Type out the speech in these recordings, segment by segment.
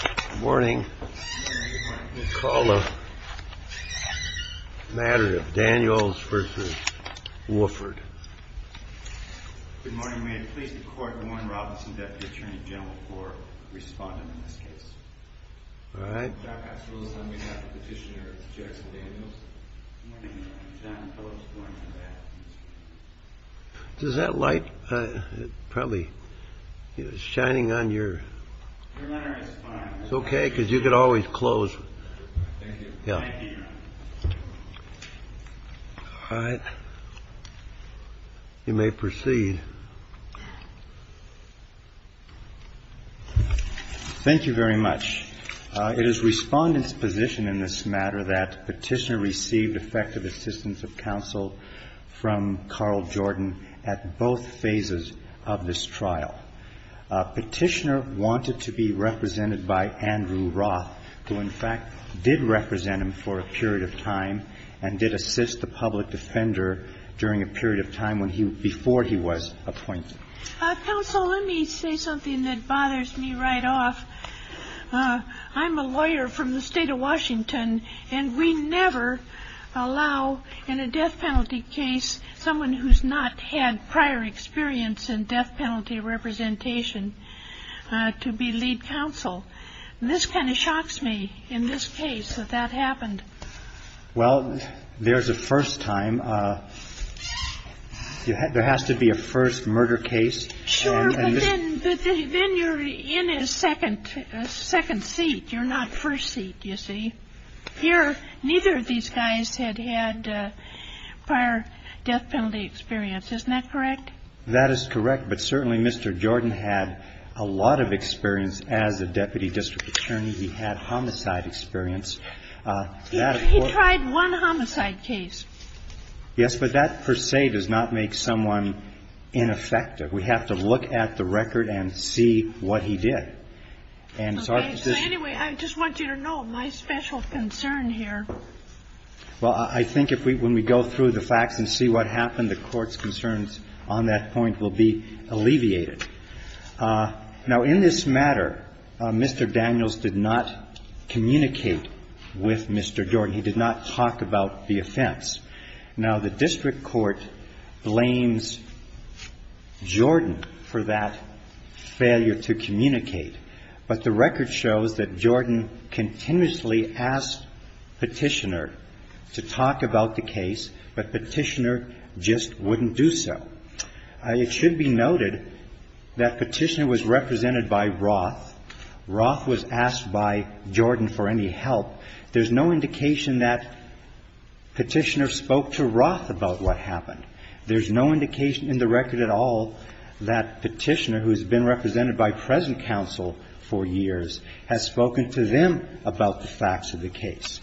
Good morning. Let's call the matter of Daniels v. Woodford. Good morning. May it please the court to warn Robinson, Deputy Attorney General, for responding to this case. All right. Dr. Absolut is on behalf of the petitioner, Judge Daniels. He and his son, Phyllis, were in combat. Is that light probably shining on your? It's okay, because you could always close. Yeah. All right. You may proceed. Thank you very much. It is respondent's position in this matter that petitioner received effective assistance of counsel from Carl Jordan at both phases of this trial. Petitioner wanted to be represented by Andrew Roth, who, in fact, did represent him for a period of time and did assist the public defender during a period of time before he was appointed. Counsel, let me say something that bothers me right off. I'm a lawyer from the state of Washington, and we never allow, in a death penalty case, someone who's not had prior experience in death penalty representation to be lead counsel. This kind of shocks me, in this case, that that happened. Well, there's a first time. There has to be a first murder case. Sure, but then you're in a second seat. You're not first seat, you see. Here, neither of these guys had had prior death penalty experience. Isn't that correct? That is correct, but certainly Mr. Jordan had a lot of experience as a deputy district attorney. He had homicide experience. He tried one homicide case. Yes, but that, per se, does not make someone ineffective. We have to look at the record and see what he did. Anyway, I just want you to know my special concern here. Well, I think when we go through the facts and see what happened, the Court's concerns on that point will be alleviated. Now, in this matter, Mr. Daniels did not communicate with Mr. Jordan. He did not talk about the offense. Now, the district court blames Jordan for that failure to communicate, but the record shows that Jordan continuously asked Petitioner to talk about the case, but Petitioner just wouldn't do so. It should be noted that Petitioner was represented by Roth. Roth was asked by Jordan for any help. There's no indication that Petitioner spoke to Roth about what happened. There's no indication in the record at all that Petitioner, who has been represented by present counsel for years, has spoken to them about the facts of the case.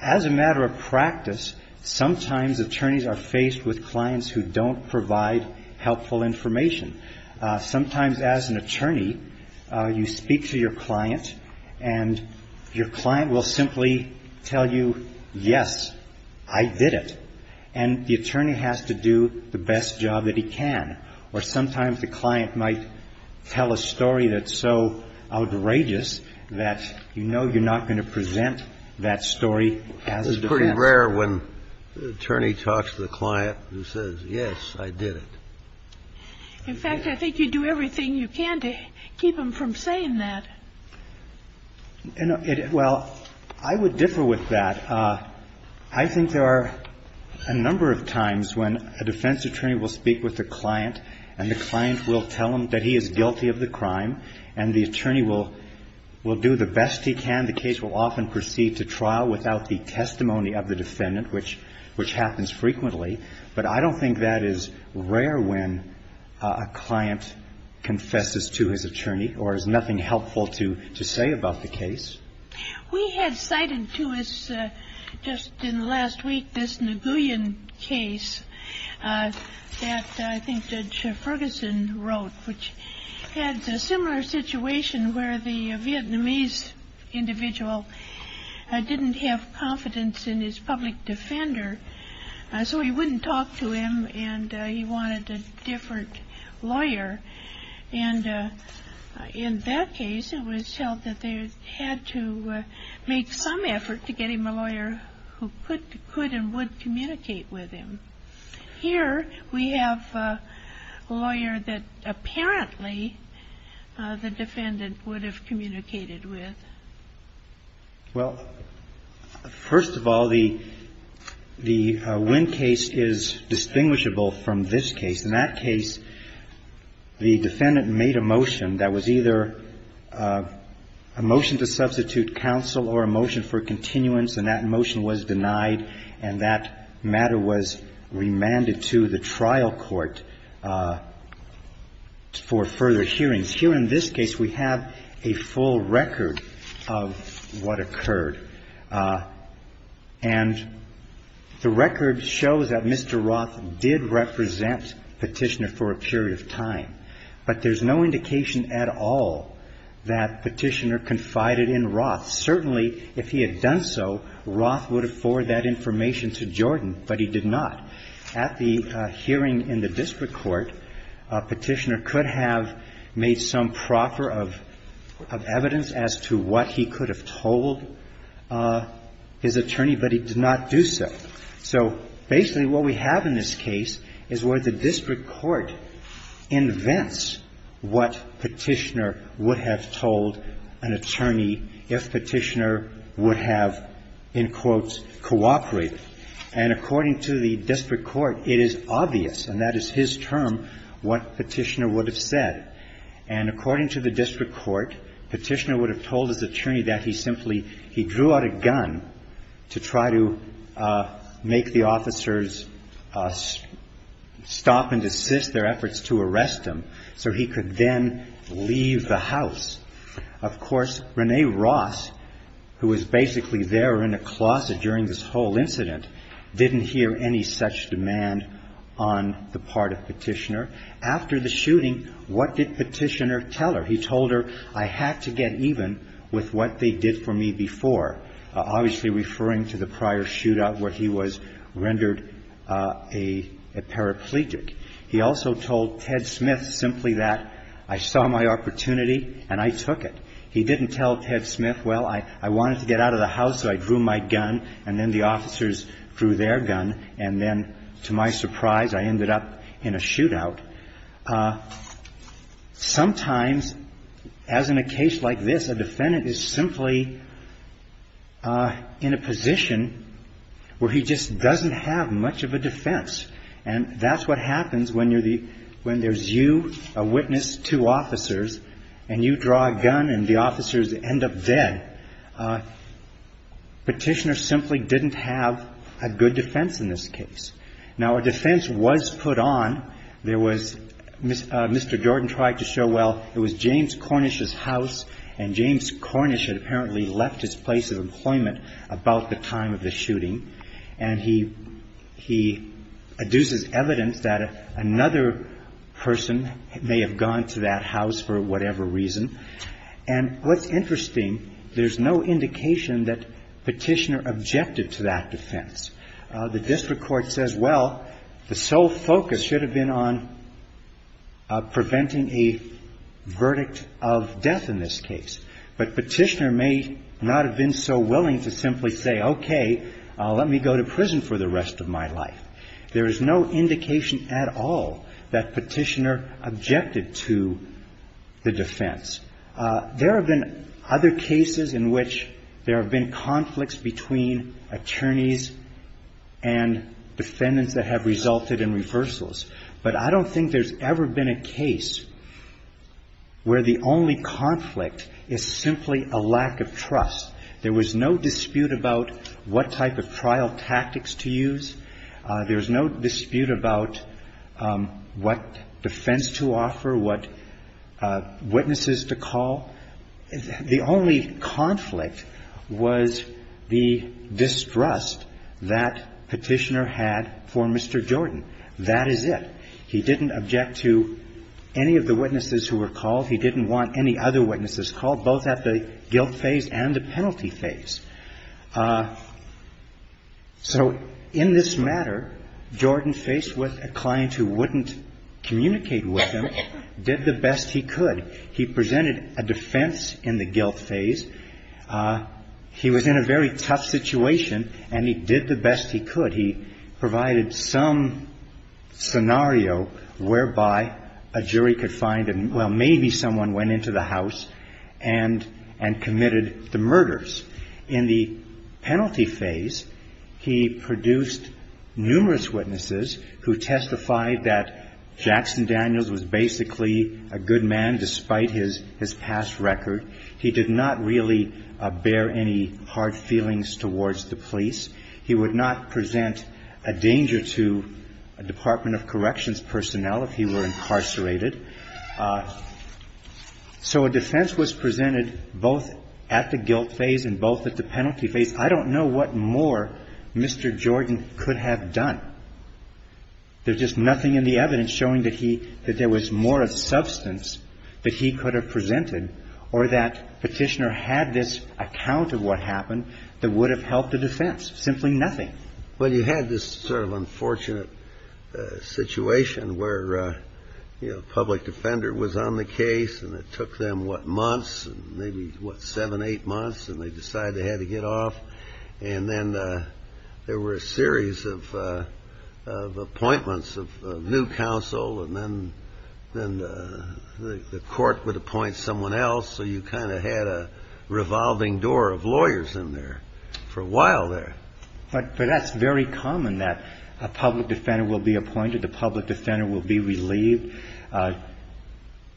As a matter of practice, sometimes attorneys are faced with clients who don't provide helpful information. Sometimes as an attorney, you speak to your client, and your client will simply tell you, yes, I did it, and the attorney has to do the best job that he can. Or sometimes the client might tell a story that's so outrageous that you know you're not going to present that story as a defense attorney. It's pretty rare when the attorney talks to the client and says, yes, I did it. In fact, I think you do everything you can to keep them from saying that. Well, I would differ with that. I think there are a number of times when a defense attorney will speak with a client, and the client will tell him that he is guilty of the crime, and the attorney will do the best he can. The case will often proceed to trial without the testimony of the defendant, which happens frequently. But I don't think that is rare when a client confesses to his attorney or has nothing helpful to say about the case. We had cited to us just in the last week this Naguilian case that I think Judge Ferguson wrote, which had a similar situation where the Vietnamese individual didn't have confidence in his public defender, so he wouldn't talk to him, and he wanted a different lawyer. And in that case, it was felt that they had to make some effort to get him a lawyer who could and would communicate with him. Here, we have a lawyer that apparently the defendant would have communicated with. Well, first of all, the Nguyen case is distinguishable from this case. In that case, the defendant made a motion that was either a motion to substitute counsel or a motion for continuance, and that motion was denied, and that matter was remanded to the trial court for further hearings. Here in this case, we have a full record of what occurred. And the record shows that Mr. Roth did represent Petitioner for a period of time, but there's no indication at all that Petitioner confided in Roth. Certainly, if he had done so, Roth would have forwarded that information to Jordan, but he did not. At the hearing in the district court, Petitioner could have made some proper of evidence as to what he could have told his attorney, but he did not do so. So, basically, what we have in this case is where the district court invents what Petitioner would have told an attorney if Petitioner would have, in quotes, cooperated. And according to the district court, it is obvious, and that is his term, what Petitioner would have said. And according to the district court, Petitioner would have told his attorney that he simply, he drew out a gun to try to make the officers stop and desist their efforts to arrest him so he could then leave the house. Of course, Renee Roth, who was basically there in a closet during this whole incident, didn't hear any such demand on the part of Petitioner. After the shooting, what did Petitioner tell her? He told her, I had to get even with what they did for me before, obviously referring to the prior shootout where he was rendered a paraplegic. He also told Ted Smith simply that I saw my opportunity and I took it. He didn't tell Ted Smith, well, I wanted to get out of the house so I drew my gun and then the officers drew their gun and then, to my surprise, I ended up in a shootout. Sometimes, as in a case like this, a defendant is simply in a position where he just doesn't have much of a defense. That's what happens when there's you, a witness, two officers, and you draw a gun and the officers end up dead. Petitioner simply didn't have a good defense in this case. Now, a defense was put on. Mr. Jordan tried to show, well, it was James Cornish's house and James Cornish had apparently left his place of employment about the time of the shooting. And he adduces evidence that another person may have gone to that house for whatever reason. And what's interesting, there's no indication that Petitioner objected to that defense. The district court says, well, the sole focus should have been on preventing a verdict of death in this case. But Petitioner may not have been so willing to simply say, okay, let me go to prison for the rest of my life. There is no indication at all that Petitioner objected to the defense. There have been other cases in which there have been conflicts between attorneys and defendants that have resulted in reversals. But I don't think there's ever been a case where the only conflict is simply a lack of trust. There was no dispute about what type of trial tactics to use. There was no dispute about what defense to offer, what witnesses to call. The only conflict was the distrust that Petitioner had for Mr. Jordan. That is it. He didn't object to any of the witnesses who were called. He didn't want any other witnesses called, both at the guilt phase and the penalty phase. So in this matter, Jordan, faced with a client who wouldn't communicate with him, did the best he could. He presented a defense in the guilt phase. He was in a very tough situation, and he did the best he could. He provided some scenario whereby a jury could find, well, maybe someone went into the house and committed the murders. In the penalty phase, he produced numerous witnesses who testified that Jackson Daniels was basically a good man despite his past record. He did not really bear any hard feelings towards the police. He would not present a danger to a Department of Corrections personnel if he were incarcerated. So a defense was presented both at the guilt phase and both at the penalty phase. I don't know what more Mr. Jordan could have done. There's just nothing in the evidence showing that there was more substance that he could have presented or that Petitioner had this account of what happened that would have helped the defense. Simply nothing. Well, you had this sort of unfortunate situation where a public defender was on the case, and it took them, what, months, maybe seven, eight months, and they decided they had to get off. And then there were a series of appointments of new counsel, and then the court would appoint someone else. So you kind of had a revolving door of lawyers in there for a while there. But that's very common that a public defender will be appointed, the public defender will be relieved.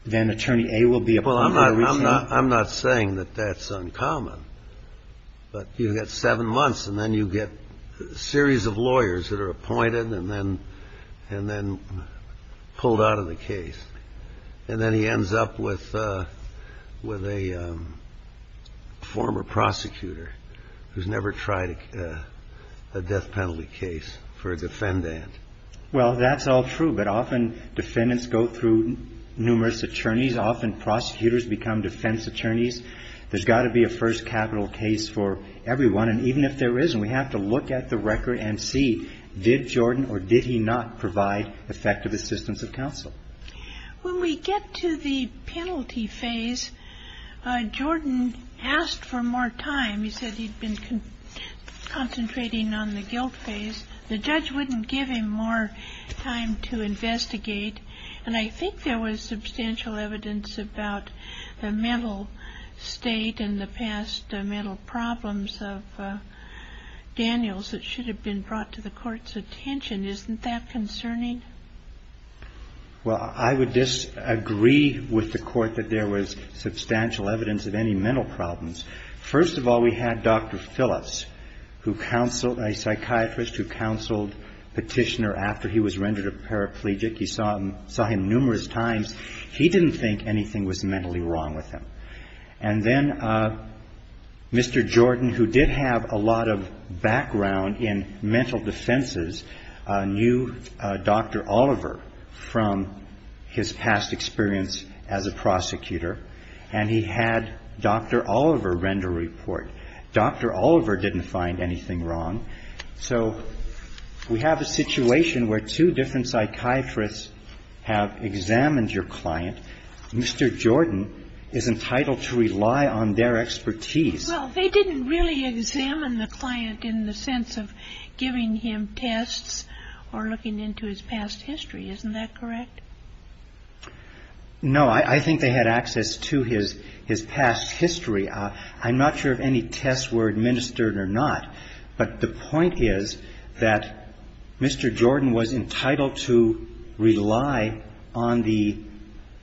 Then Attorney A will be appointed. Well, I'm not saying that that's uncommon. But you get seven months, and then you get a series of lawyers that are appointed and then pulled out of the case. And then he ends up with a former prosecutor who's never tried a death penalty case for a defendant. Well, that's all true. But often defendants go through numerous attorneys. Often prosecutors become defense attorneys. There's got to be a first capital case for everyone. And even if there isn't, we have to look at the record and see, did Jordan or did he not provide effective assistance of counsel? When we get to the penalty phase, Jordan asked for more time. He said he'd been concentrating on the guilt phase. The judge wouldn't give him more time to investigate. And I think there was substantial evidence about the mental state and the past mental problems of Daniels that should have been brought to the court's attention. Isn't that concerning? Well, I would disagree with the court that there was substantial evidence of any mental problems. First of all, we had Dr. Phillips, a psychiatrist who counseled Petitioner after he was rendered a paraplegic. You saw him numerous times. He didn't think anything was mentally wrong with him. And then Mr. Jordan, who did have a lot of background in mental defenses, knew Dr. Oliver from his past experience as a prosecutor. And he had Dr. Oliver render a report. Dr. Oliver didn't find anything wrong. So we have a situation where two different psychiatrists have examined your client. Mr. Jordan is entitled to rely on their expertise. Well, they didn't really examine the client in the sense of giving him tests or looking into his past history. Isn't that correct? No, I think they had access to his past history. I'm not sure if any tests were administered or not. But the point is that Mr. Jordan was entitled to rely on the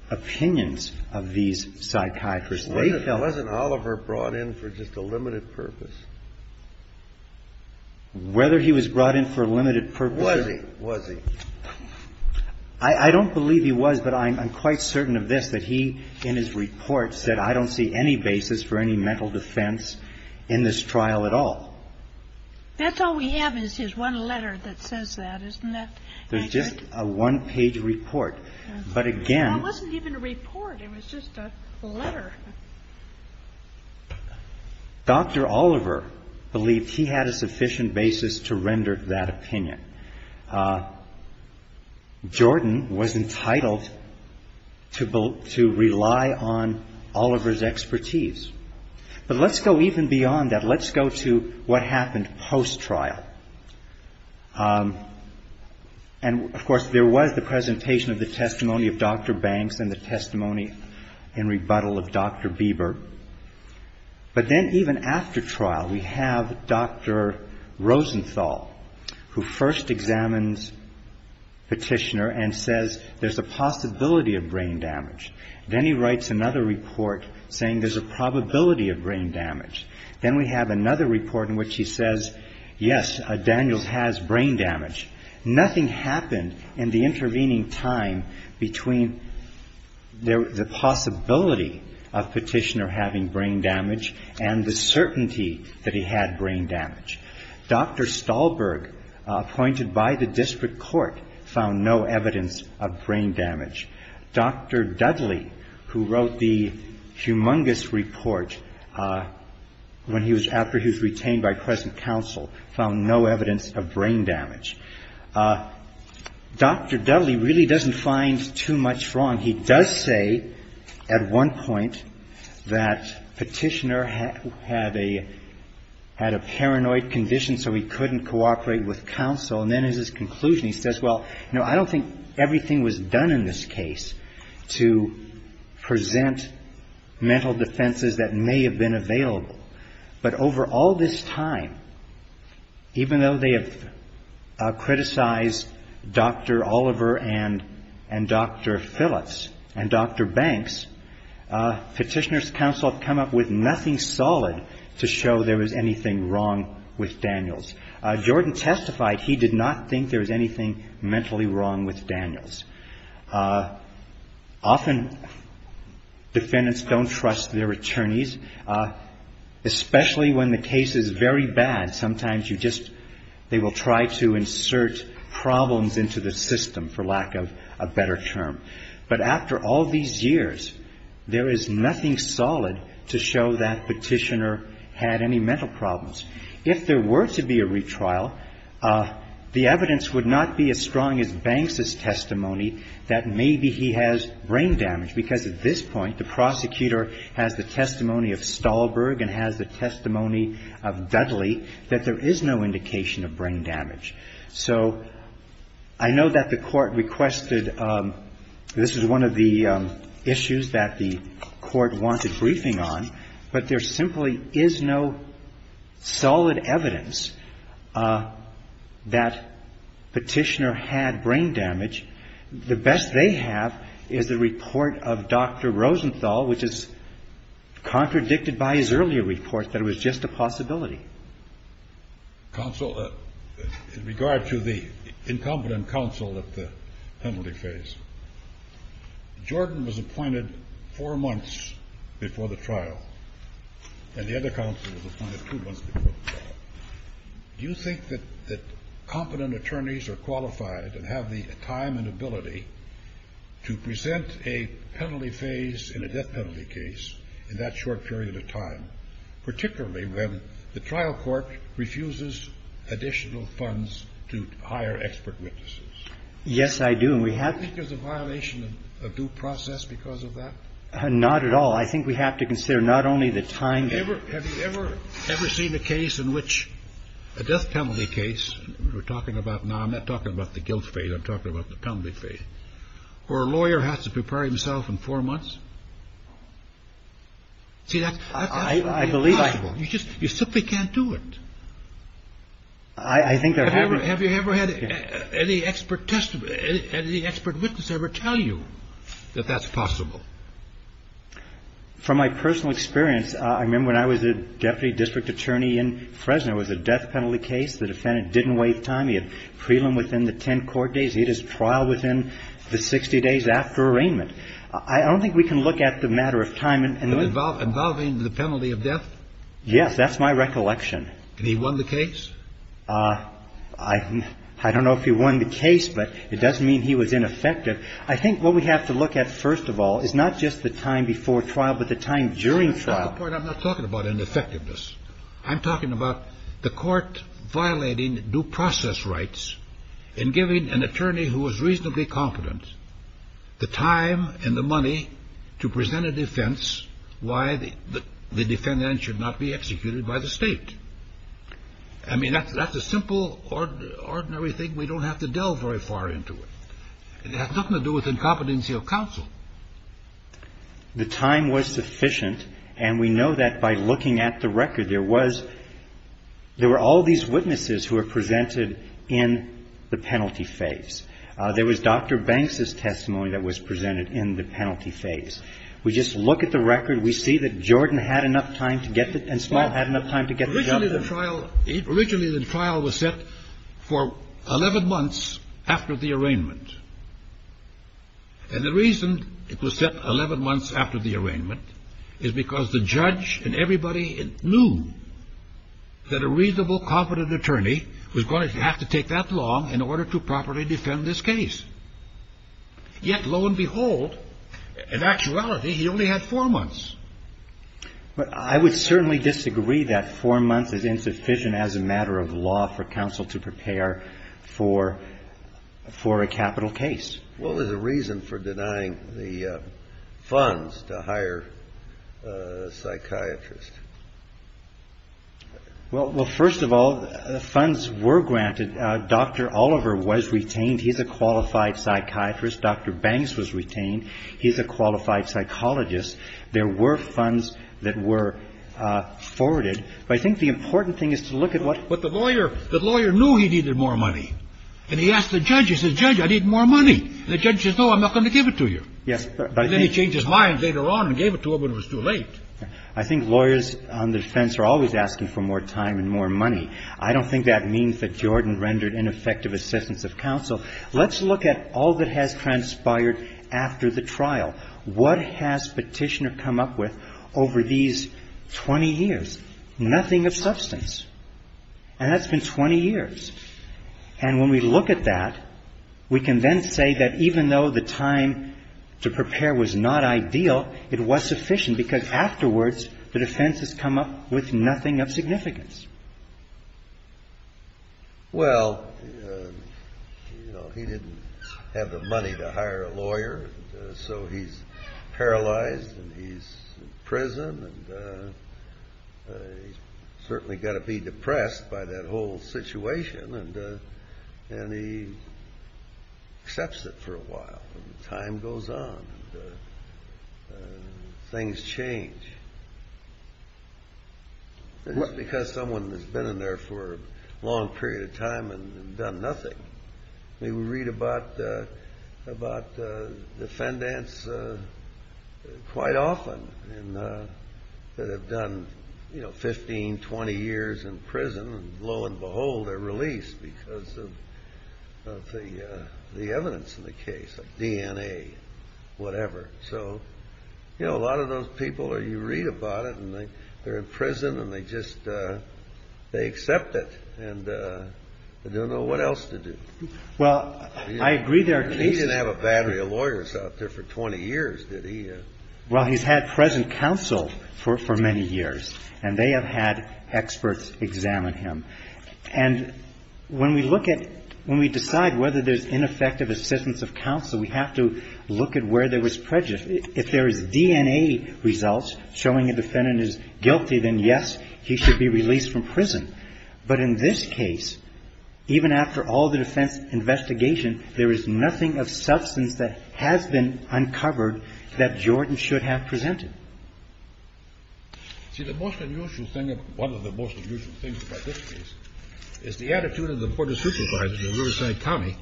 opinions of these psychiatrists. Wasn't Oliver brought in for just a limited purpose? Whether he was brought in for a limited purpose? Was he? I don't believe he was, but I'm quite certain of this, that he, in his report, said, I don't see any basis for any mental defense in this trial at all. That's all we have is his one letter that says that, isn't it? It's just a one-page report. It wasn't even a report. It was just a letter. Dr. Oliver believed he had a sufficient basis to render that opinion. Jordan was entitled to rely on Oliver's expertise. But let's go even beyond that. Let's go to what happened post-trial. And, of course, there was the presentation of the testimony of Dr. Banks and the testimony in rebuttal of Dr. Bieber. But then, even after trial, we have Dr. Rosenthal, who first examines Petitioner and says there's a possibility of brain damage. Then he writes another report saying there's a probability of brain damage. Then we have another report in which he says, yes, Daniel has brain damage. Nothing happened in the intervening time between the possibility of Petitioner having brain damage and the certainty that he had brain damage. Dr. Stahlberg, appointed by the district court, found no evidence of brain damage. Dr. Dudley, who wrote the humongous report after he was retained by present counsel, found no evidence of brain damage. Dr. Dudley really doesn't find too much wrong. He does say at one point that Petitioner had a paranoid condition so he couldn't cooperate with counsel. And then, in his conclusion, he says, well, I don't think everything was done in this case to present mental defenses that may have been available. But over all this time, even though they have criticized Dr. Oliver and Dr. Phillips and Dr. Banks, Petitioner's counsel have come up with nothing solid to show there was anything wrong with Daniel's. Jordan testified he did not think there was anything mentally wrong with Daniel's. Often defendants don't trust their attorneys, especially when the case is very bad. Sometimes they will try to insert problems into the system, for lack of a better term. But after all these years, there is nothing solid to show that Petitioner had any mental problems. If there were to be a retrial, the evidence would not be as strong as Banks' testimony that maybe he has brain damage. Because at this point, the prosecutor has the testimony of Stahlberg and has the testimony of Dudley, that there is no indication of brain damage. So, I know that the court requested, this is one of the issues that the court wanted briefing on, but there simply is no solid evidence that Petitioner had brain damage. The best they have is the report of Dr. Rosenthal, which is contradicted by his earlier report that it was just a possibility. Counsel, in regard to the incompetent counsel at the penalty phase, Jordan was appointed four months before the trial, and the other counsel was appointed two months before the trial. Do you think that competent attorneys are qualified and have the time and ability to present a penalty phase in a death penalty case in that short period of time, particularly when the trial court refuses additional funds to hire expert witnesses? Yes, I do. Do you think there's a violation of due process because of that? Not at all. I think we have to consider not only the time. Have you ever seen a death penalty case, we're talking about now, I'm not talking about the guilt phase, I'm talking about the penalty phase, where a lawyer has to prepare himself in four months? I believe that. You simply can't do it. Have you ever had any expert witness ever tell you that that's possible? From my personal experience, I remember when I was a deputy district attorney in Fresno, it was a death penalty case, the defendant didn't wait time, he had prelim within the 10 court days, he had his trial within the 60 days after arraignment. I don't think we can look at the matter of time. Involving the penalty of death? Yes, that's my recollection. And he won the case? I don't know if he won the case, but it doesn't mean he was ineffective. I think what we have to look at, first of all, is not just the time before trial, but the time during trial. I'm not talking about ineffectiveness. I'm talking about the court violating due process rights in giving an attorney who was reasonably confident the time and the money to present a defense why the defendant should not be executed by the state. I mean, that's a simple, ordinary thing. We don't have to delve very far into it. It has nothing to do with incompetency of counsel. The time was sufficient, and we know that by looking at the record. There were all these witnesses who were presented in the penalty phase. There was Dr. Banks' testimony that was presented in the penalty phase. We just look at the record. We see that Jordan had enough time to get it, and Smiley had enough time to get it. Originally, the trial was set for 11 months after the arraignment. And the reason it was set 11 months after the arraignment is because the judge and everybody knew that a reasonable, confident attorney was going to have to take that long in order to properly defend this case. Yet, lo and behold, in actuality, he only had four months. I would certainly disagree that four months is insufficient as a matter of law for counsel to prepare for a capital case. What was the reason for denying the funds to hire psychiatrists? Well, first of all, funds were granted. Dr. Oliver was retained. He's a qualified psychiatrist. Dr. Banks was retained. He's a qualified psychologist. There were funds that were forwarded. But I think the important thing is to look at what the lawyer knew he needed more money. And he asked the judge, he said, judge, I need more money. And the judge said, no, I'm not going to give it to you. And then he changed his mind later on and gave it to him when it was too late. I think lawyers on defense are always asking for more time and more money. I don't think that means that Jordan rendered ineffective assistance of counsel. Let's look at all that has transpired after the trial. What has Petitioner come up with over these 20 years? Nothing of substance. And that's been 20 years. And when we look at that, we can then say that even though the time to prepare was not ideal, it was sufficient because afterwards the defense has come up with nothing of significance. Well, he didn't have the money to hire a lawyer, so he's paralyzed and he's in prison. And he's certainly got to be depressed by that whole situation. And he accepts it for a while. Time goes on. Things change. Just because someone has been in there for a long period of time and done nothing. We read about defendants quite often that have done 15, 20 years in prison. And lo and behold, they're released because of the evidence in the case of DNA, whatever. So a lot of those people, you read about it, and they're in prison and they just accept it. And they don't know what else to do. Well, I agree there are cases. He didn't have a battery of lawyers out there for 20 years, did he? Well, he's had present counsel for many years, and they have had experts examine him. And when we look at, when we decide whether there's ineffective assistance of counsel, we have to look at where there was prejudice. If there are DNA results showing a defendant is guilty, then yes, he should be released from prison. But in this case, even after all the defense investigation, there is nothing of substance that has been uncovered that Jordan should have presented. See, the most unusual thing, one of the most unusual things about this case, is the attitude of the Board of Supervisors in Riverside County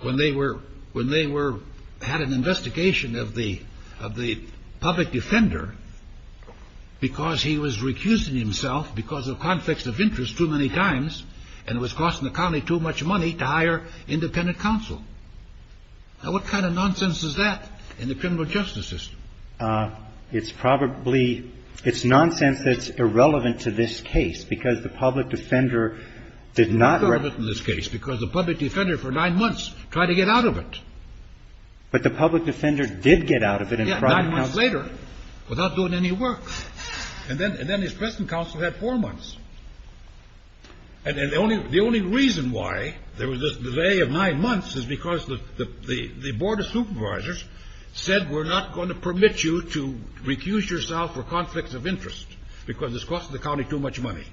when they had an investigation of the public defender because he was recusing himself because of conflicts of interest too many times and was costing the county too much money to hire independent counsel. Now, what kind of nonsense is that in the criminal justice system? It's probably, it's nonsense that's irrelevant to this case because the public defender did not... Irrelevant to this case because the public defender for nine months tried to get out of it. But the public defender did get out of it. He got out nine months later without doing any work. And then his present counsel had four months. And the only reason why there was this delay of nine months is because the Board of Supervisors said we're not going to permit you to recuse yourself for conflicts of interest because this costs the county too much money.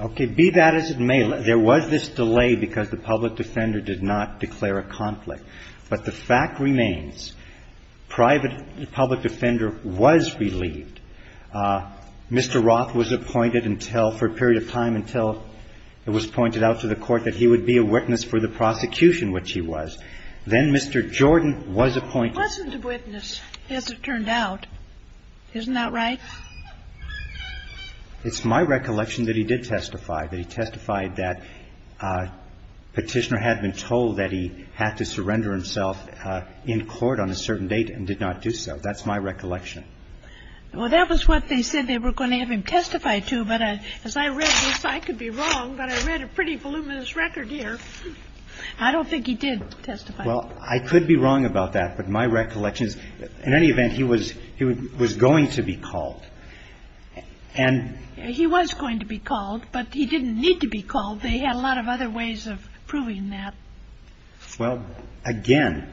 Okay, be that as it may, there was this delay because the public defender did not declare a conflict. But the fact remains, private public defender was relieved. Mr. Roth was appointed for a period of time until it was pointed out to the court that he would be a witness for the prosecution, which he was. Then Mr. Jordan was appointed. He wasn't a witness, as it turned out. Isn't that right? It's my recollection that he did testify. He testified that petitioner had been told that he had to surrender himself in court on a certain date and did not do so. That's my recollection. Well, that was what they said they were going to have him testify to. But as I read this, I could be wrong, but I read a pretty voluminous record here. I don't think he did testify. Well, I could be wrong about that. But my recollection is, in any event, he was going to be called. He was going to be called, but he didn't need to be called. They had a lot of other ways of proving that. Well, again,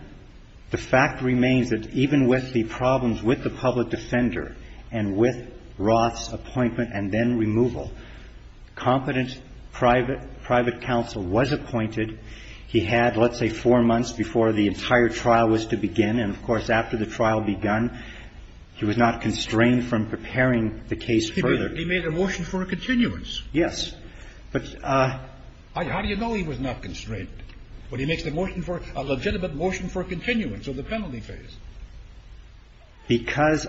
the fact remains that even with the problems with the public defender and with Roth's appointment and then removal, competent private counsel was appointed. He had, let's say, four months before the entire trial was to begin. And, of course, after the trial begun, he was not constrained from preparing the case further. He made a motion for a continuance. Yes. How do you know he was not constrained? But he made a legitimate motion for a continuance of the penalty phase. Because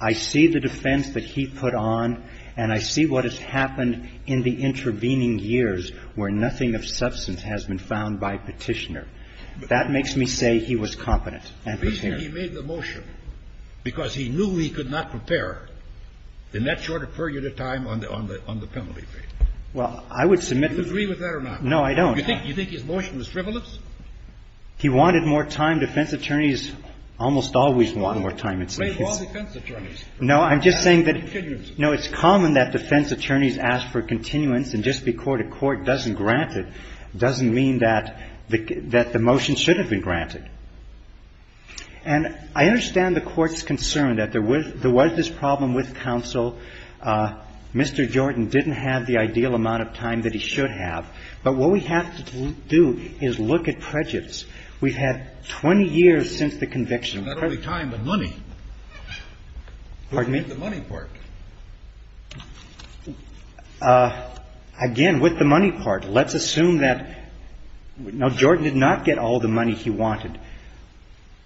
I see the defense that he put on and I see what has happened in the intervening years where nothing of substance has been found by petitioner. That makes me say he was competent. At least he made the motion. Because he knew he could not prepare in that short a period of time on the penalty phase. Well, I would submit... Do you agree with that or not? No, I don't. Do you think his motion was frivolous? He wanted more time. Defense attorneys almost always want more time. Well, defense attorneys. No, I'm just saying that... Continuance. No, it's common that defense attorneys ask for continuance and just because a court doesn't grant it doesn't mean that the motion shouldn't be granted. And I understand the court's concern that there was this problem with counsel. Mr. Jordan didn't have the ideal amount of time that he should have. But what we have to do is look at prejudice. We've had 20 years since the conviction. Not only time, but money. Pardon me? The money part. Again, with the money part, let's assume that... Now, Jordan did not get all the money he wanted.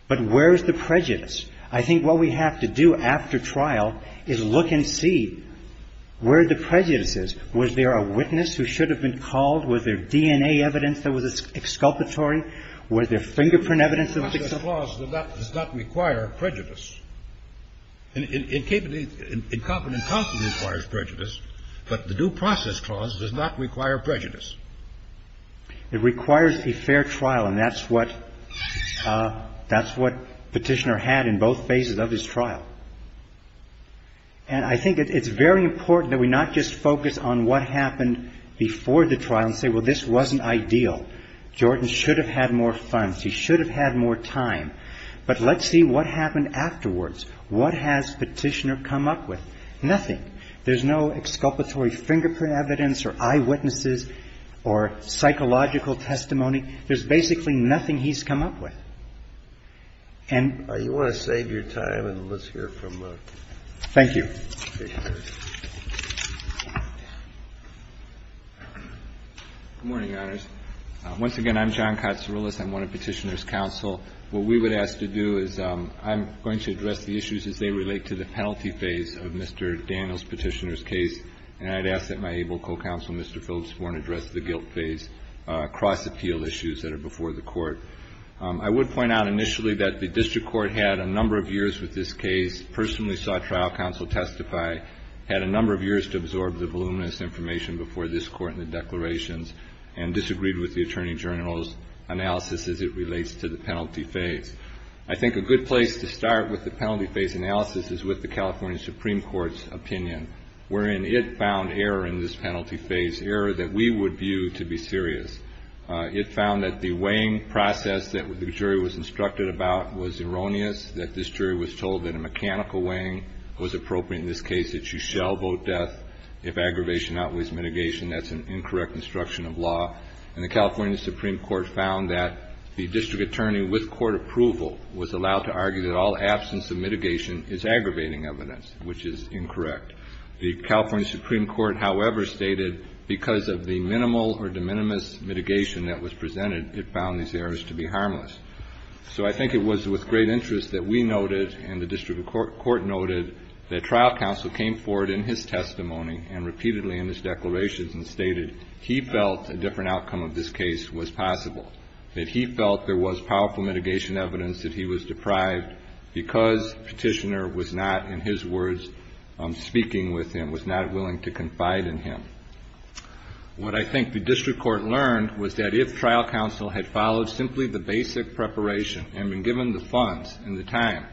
But where is the prejudice? I think what we have to do after trial is look and see where the prejudice is. Was there a witness who should have been called? Was there DNA evidence that was exculpatory? Was there fingerprint evidence that was exculpatory? That does not require prejudice. Incompetent constantly requires prejudice, but the Due Process Clause does not require prejudice. It requires a fair trial, and that's what Petitioner had in both phases of his trial. And I think it's very important that we not just focus on what happened before the trial and say, well, this wasn't ideal. Jordan should have had more funds. He should have had more time. But let's see what happened afterwards. What has Petitioner come up with? Nothing. There's no exculpatory fingerprint evidence or eyewitnesses or psychological testimony. There's basically nothing he's come up with. You want to save your time and let's hear from Petitioner. Thank you. Good morning, Your Honors. Once again, I'm John Katsouroulis. I'm one of Petitioner's counsel. What we would ask to do is I'm going to address the issues as they relate to the penalty phase of Mr. Daniel's Petitioner's case, and I'd ask that my able co-counsel, Mr. Phillips, want to address the guilt phase across the teal issues that are before the Court. I would point out initially that the District Court had a number of years with this case, personally saw trial counsel testify, had a number of years to absorb the voluminous information before this Court and the declarations, and disagreed with the Attorney General's analysis as it relates to the penalty phase. I think a good place to start with the penalty phase analysis is with the California Supreme Court's opinion, wherein it found error in this penalty phase, error that we would view to be serious. It found that the weighing process that the jury was instructed about was erroneous, that this jury was told that a mechanical weighing was appropriate in this case, that you shall vote death if aggravation outweighs mitigation. That's an incorrect instruction of law. And the California Supreme Court found that the District Attorney, with court approval, was allowed to argue that all absence of mitigation is aggravating evidence, which is incorrect. The California Supreme Court, however, stated, because of the minimal or de minimis mitigation that was presented, it found these errors to be harmless. So I think it was with great interest that we noted, and the District Court noted, that trial counsel came forward in his testimony, and repeatedly in his declarations, and stated he felt a different outcome of this case was possible, that he felt there was powerful mitigation evidence that he was deprived because petitioner was not, in his words, speaking with him, was not willing to confide in him. What I think the District Court learned was that if trial counsel had followed simply the basic preparation and been given the funds and the time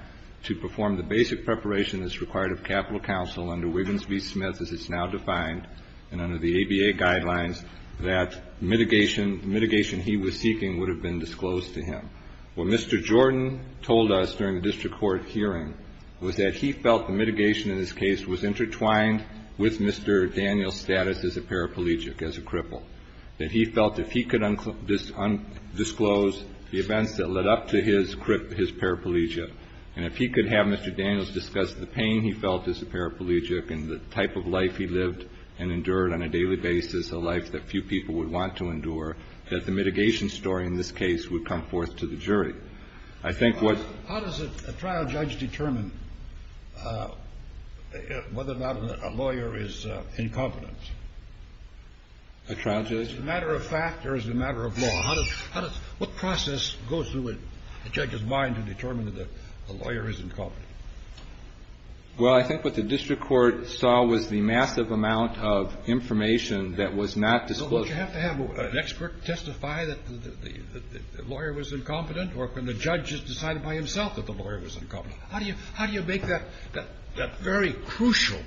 to perform the basic preparation that's required of capital counsel under Wiggins v. Smith, as it's now defined, and under the ABA guidelines, that mitigation he was seeking would have been disclosed to him. What Mr. Jordan told us during the District Court hearing was that he felt the mitigation in this case was intertwined with Mr. Daniel's status as a paraplegic, as a cripple, that he felt if he could disclose the event that led up to his cripple, his paraplegia, and if he could have Mr. Daniels discuss the pain he felt as a paraplegic and the type of life he lived and endured on a daily basis, a life that few people would want to endure, that the mitigation story in this case would come forth to the jury. How does a trial judge determine whether or not a lawyer is incompetent? A trial judge? Is it a matter of fact or is it a matter of law? What process goes through a judge's mind to determine that a lawyer is incompetent? Well, I think what the District Court saw was the massive amount of information that was not disclosed. So would you have to have an expert testify that the lawyer was incompetent or can the judge just decide by himself that the lawyer was incompetent? How do you make that very crucial,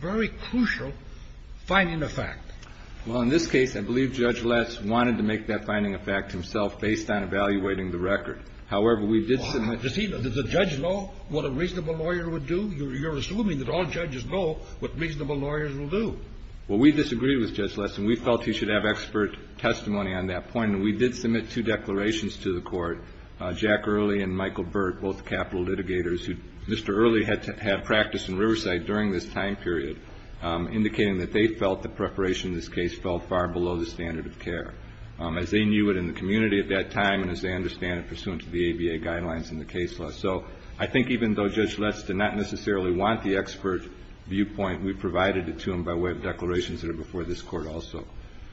very crucial finding of fact? Well, in this case, I believe Judge Less wanted to make that finding of fact himself based on evaluating the record. However, we did submit... Well, does the judge know what a reasonable lawyer would do? You're assuming that all judges know what reasonable lawyers will do. Well, we disagree with Judge Less, and we felt he should have expert testimony on that point, and we did submit two declarations to the Court, Jack Early and Michael Burt, both capital litigators, who Mr. Early had to have practice in Riverside during this time period, indicating that they felt the preparation in this case fell far below the standard of care, as they knew it in the community at that time and as they understand it pursuant to the ABA guidelines in the case law. So I think even though Judge Less did not necessarily want the expert viewpoint, we provided it to him by way of declarations that are before this Court also.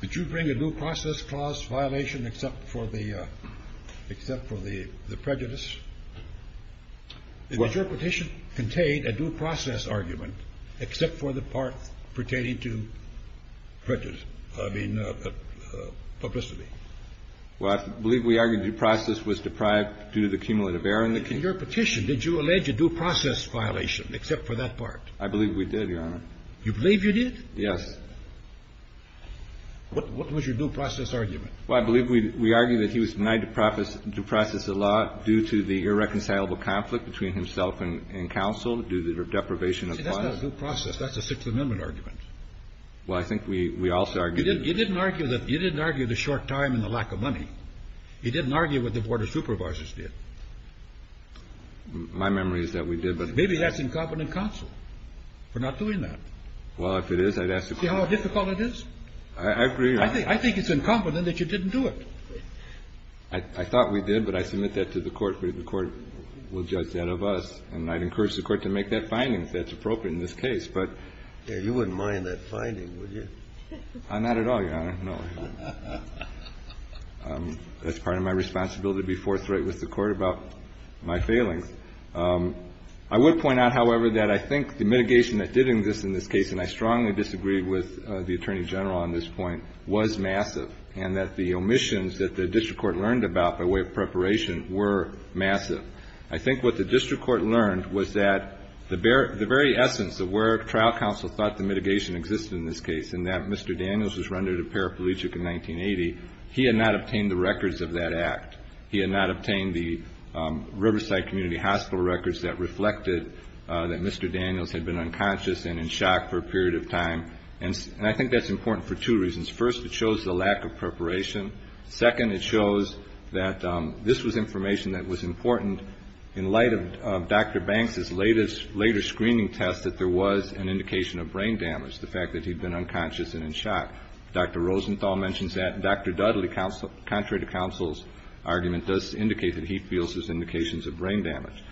Did you bring a due process clause violation except for the prejudice? Did your petition contain a due process argument except for the part pertaining to prejudice, I mean publicity? Well, I believe we argued due process was deprived due to the cumulative error in the case. In your petition, did you allege a due process violation except for that part? I believe we did, Your Honor. You believe you did? Yes. What was your due process argument? Well, I believe we argued that he was denied due process of the law due to the irreconcilable conflict between himself and counsel due to deprivation of power. See, that's not a due process, that's a Sixth Amendment argument. Well, I think we also argued... You didn't argue the short time and the lack of money. You didn't argue what the Board of Supervisors did. My memory is that we did, but... Maybe that's incompetent counsel for not doing that. Well, if it is, I'd ask the court... See how difficult it is? I agree, Your Honor. I think it's incompetent that you didn't do it. I thought we did, but I submit that to the court, but the court will judge that of us, and I'd encourage the court to make that finding if that's appropriate in this case, but... You wouldn't mind that finding, would you? Not at all, Your Honor, no. That's part of my responsibility to be forthright with the court about my failing. I would point out, however, that I think the mitigation that did exist in this case, and I strongly disagree with the Attorney General on this point, was massive, and that the omissions that the district court learned about by way of preparation were massive. I think what the district court learned was that the very essence of where trial counsel thought the mitigation existed in this case, and that Mr. Daniels was rendered a paraplegic in 1980, he had not obtained the records of that act. He had not obtained the Riverside Community Hospital records that reflected that Mr. Daniels had been unconscious and in shock for a period of time, and I think that's important for two reasons. First, it shows the lack of preparation. Second, it shows that this was information that was important in light of Dr. Banks' later screening test that there was an indication of brain damage, the fact that he'd been unconscious and in shock. Dr. Rosenthal mentions that, and Dr. Dudley, contrary to counsel's argument, does indicate that he feels there's indications of brain damage.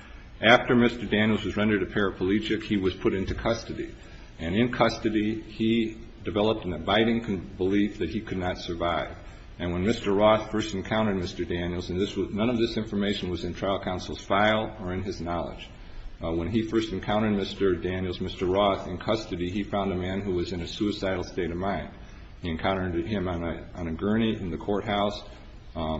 After Mr. Daniels was rendered a paraplegic, he was put into custody, and in custody he developed an abiding belief that he could not survive, and when Mr. Roth first encountered Mr. Daniels, and none of this information was in trial counsel's file or in his knowledge, when he first encountered Mr. Daniels, Mr. Roth, in custody, he found a man who was in a suicidal state of mind. He encountered him on a gurney in the courthouse,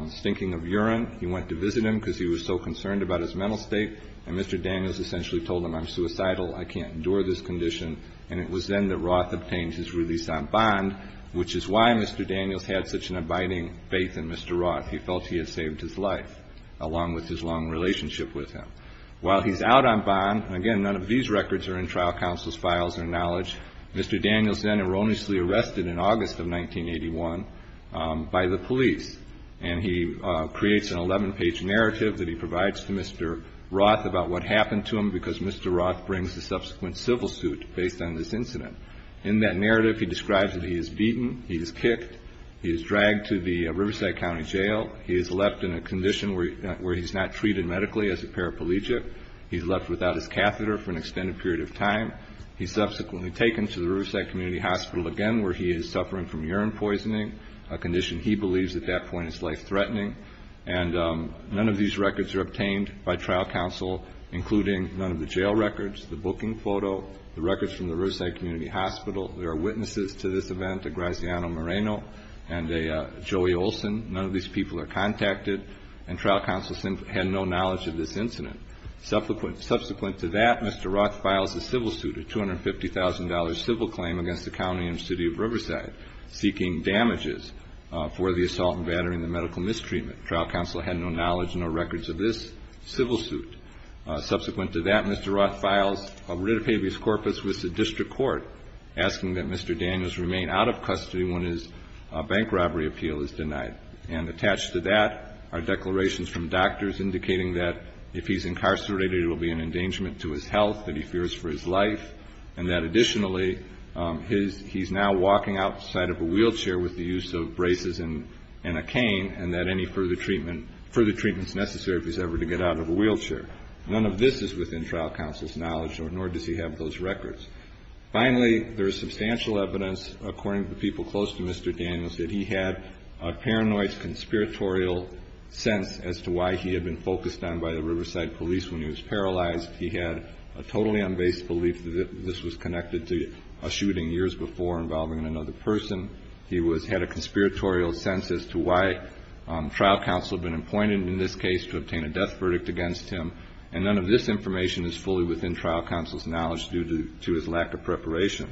stinking of urine. He went to visit him because he was so concerned about his mental state, and Mr. Daniels essentially told him, I'm suicidal, I can't endure this condition, and it was then that Roth obtained his release on bond, which is why Mr. Daniels had such an abiding faith in Mr. Roth. He felt he had saved his life, along with his long relationship with him. While he's out on bond, and again, none of these records are in trial counsel's files or knowledge, Mr. Daniels then erroneously arrested in August of 1981 by the police, and he creates an 11-page narrative that he provides to Mr. Roth about what happened to him because Mr. Roth brings a subsequent civil suit based on this incident. In that narrative, he describes that he is beaten, he is kicked, he is dragged to the Riverside County Jail, he is left in a condition where he's not treated medically as a paraplegic, he's left without his catheter for an extended period of time, he's subsequently taken to the Riverside Community Hospital again where he is suffering from urine poisoning, a condition he believes at that point is life-threatening, and none of these records are obtained by trial counsel, including none of the jail records, the booking photo, the records from the Riverside Community Hospital. There are witnesses to this event, a Graziano Moreno and a Joey Olson. None of these people are contacted, and trial counsel had no knowledge of this incident. Subsequent to that, Mr. Roth files a civil suit, a $250,000 civil claim against the county and city of Riverside, seeking damages for the assault and battery and the medical mistreatment. Trial counsel had no knowledge, no records of this civil suit. Subsequent to that, Mr. Roth files a writ of habeas corpus with the district court, asking that Mr. Daniels remain out of custody when his bank robbery appeal is denied. And attached to that are declarations from doctors indicating that if he's incarcerated, it will be an endangerment to his health, that he fears for his life, and that additionally he's now walking outside of a wheelchair with the use of braces and a cane and that any further treatment is necessary if he's ever to get out of a wheelchair. None of this is within trial counsel's knowledge, nor does he have those records. Finally, there is substantial evidence, according to the people close to Mr. Daniels, that he had a paranoid conspiratorial sense as to why he had been focused on by the Riverside police when he was paralyzed. He had a totally unbased belief that this was connected to a shooting years before involving another person. He had a conspiratorial sense as to why trial counsel had been appointed in this case to obtain a death verdict against him, and none of this information is fully within trial counsel's knowledge due to his lack of preparation.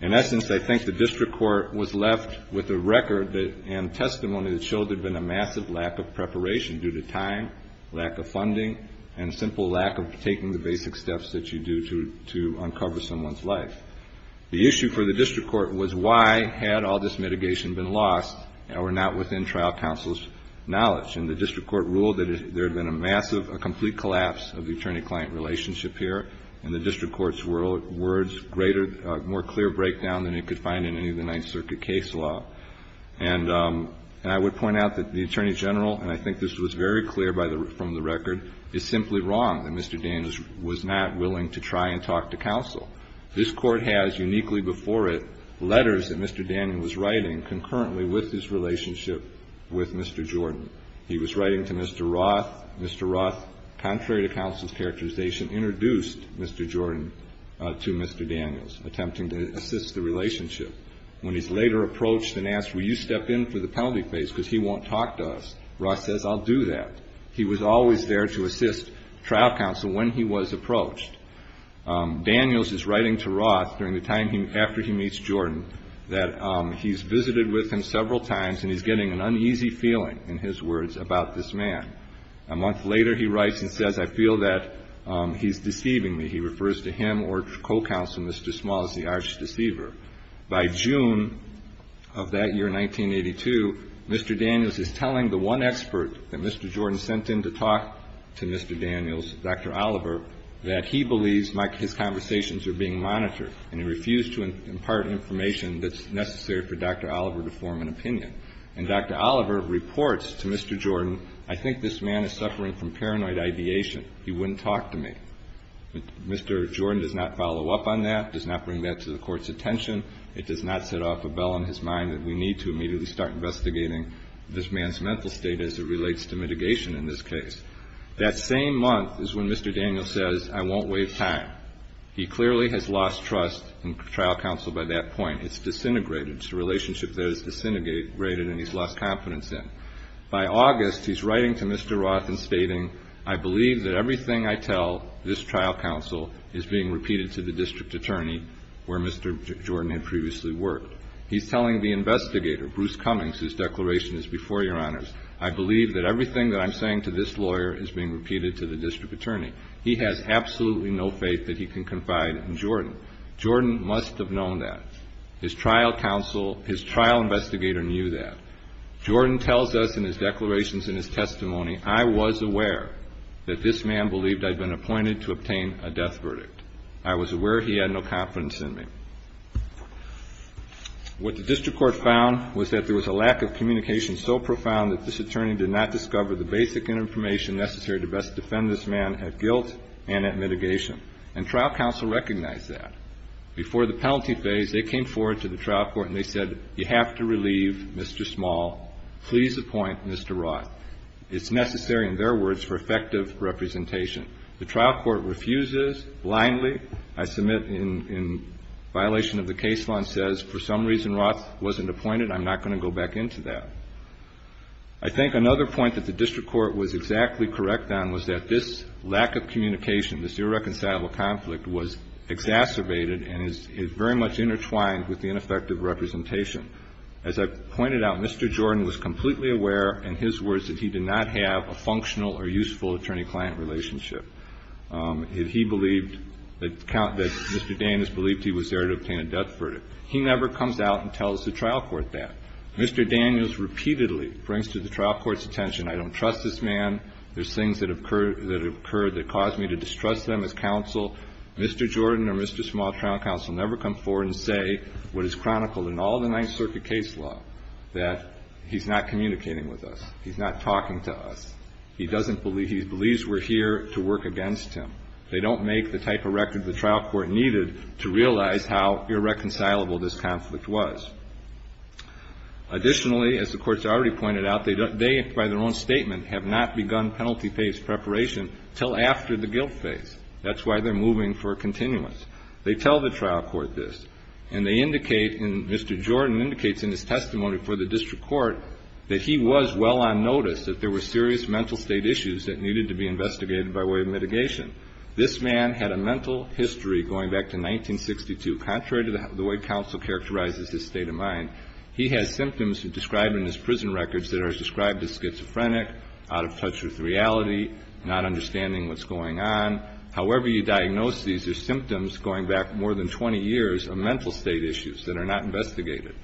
In essence, I think the district court was left with a record and testimony that showed there had been a massive lack of preparation due to time, lack of funding, and simple lack of taking the basic steps that you do to uncover someone's life. The issue for the district court was why had all this mitigation been lost and were not within trial counsel's knowledge, and the district court ruled that there had been a complete collapse of the attorney-client relationship here, and the district court's words were a more clear breakdown than you could find in any of the Ninth Circuit case law. And I would point out that the attorney general, and I think this was very clear from the record, is simply wrong that Mr. Daniels was not willing to try and talk to counsel. This court has, uniquely before it, letters that Mr. Daniels was writing concurrently with his relationship with Mr. Jordan. He was writing to Mr. Roth. Mr. Roth, contrary to counsel's characterization, introduced Mr. Jordan to Mr. Daniels, attempting to assist the relationship. When he's later approached and asked, will you step in for the penalty phase because he won't talk to us, Roth says, I'll do that. He was always there to assist trial counsel when he was approached. Daniels is writing to Roth during the time after he meets Jordan that he's visited with him several times and he's getting an uneasy feeling, in his words, about this man. A month later he writes and says, I feel that he's deceiving me. He refers to him or co-counsel Mr. Small as the Irish deceiver. By June of that year, 1982, Mr. Daniels is telling the one expert that Mr. Jordan sent in to talk to Mr. Daniels, Dr. Oliver, that he believes his conversations are being monitored and he refused to impart information that's necessary for Dr. Oliver to form an opinion. And Dr. Oliver reports to Mr. Jordan, I think this man is suffering from paranoid ideation. He wouldn't talk to me. Mr. Jordan does not follow up on that, does not bring that to the court's attention. It does not set off a bell in his mind that we need to immediately start investigating this man's mental state as it relates to mitigation in this case. That same month is when Mr. Daniels says, I won't wait time. He clearly has lost trust in trial counsel by that point. It's disintegrated. It's a relationship that is disintegrated and he's lost confidence in. By August, he's writing to Mr. Roth and stating, I believe that everything I tell this trial counsel is being repeated to the district attorney where Mr. Jordan had previously worked. He's telling the investigator, Bruce Cummings, whose declaration is before your honors, I believe that everything that I'm saying to this lawyer is being repeated to the district attorney. He has absolutely no faith that he can confide in Jordan. Jordan must have known that. His trial counsel, his trial investigator knew that. Jordan tells us in his declarations in his testimony, I was aware that this man believed I'd been appointed to obtain a death verdict. I was aware he had no confidence in me. What the district court found was that there was a lack of communication so profound that this attorney did not discover the basic information necessary to best defend this man at guilt and at mitigation. And trial counsel recognized that. Before the penalty phase, they came forward to the trial court and they said, you have to relieve Mr. Small. Please appoint Mr. Roth. It's necessary, in their words, for effective representation. The trial court refuses blindly. I submit in violation of the case law and says, for some reason, Roth wasn't appointed. I'm not going to go back into that. I think another point that the district court was exactly correct on was that this lack of communication, this irreconcilable conflict, was exacerbated and is very much intertwined with the ineffective representation. As I pointed out, Mr. Jordan was completely aware, in his words, that he did not have a functional or useful attorney-client relationship. He believed that Mr. Daniels believed he was there to obtain a death verdict. He never comes out and tells the trial court that. Mr. Daniels repeatedly brings to the trial court's attention, I don't trust this man. There's things that have occurred that caused me to distrust them as counsel. Mr. Jordan or Mr. Small, trial counsel, never come forward and say what is chronicled in all the Ninth Circuit case law, that he's not communicating with us. He's not talking to us. He believes we're here to work against him. They don't make the type of record the trial court needed to realize how irreconcilable this conflict was. Additionally, as the court has already pointed out, they, by their own statement, have not begun penalty phase preparation until after the guilt phase. That's why they're moving for a continuance. They tell the trial court this. And they indicate, and Mr. Jordan indicates in his testimony before the district court, that he was well on notice that there were serious mental state issues that needed to be investigated by way of mitigation. This man had a mental history going back to 1962. Contrary to the way counsel characterizes his state of mind, he had symptoms described in his prison records that are described as schizophrenic, out of touch with reality, not understanding what's going on. However you diagnose these, there's symptoms going back more than 20 years of mental state issues that are not investigated.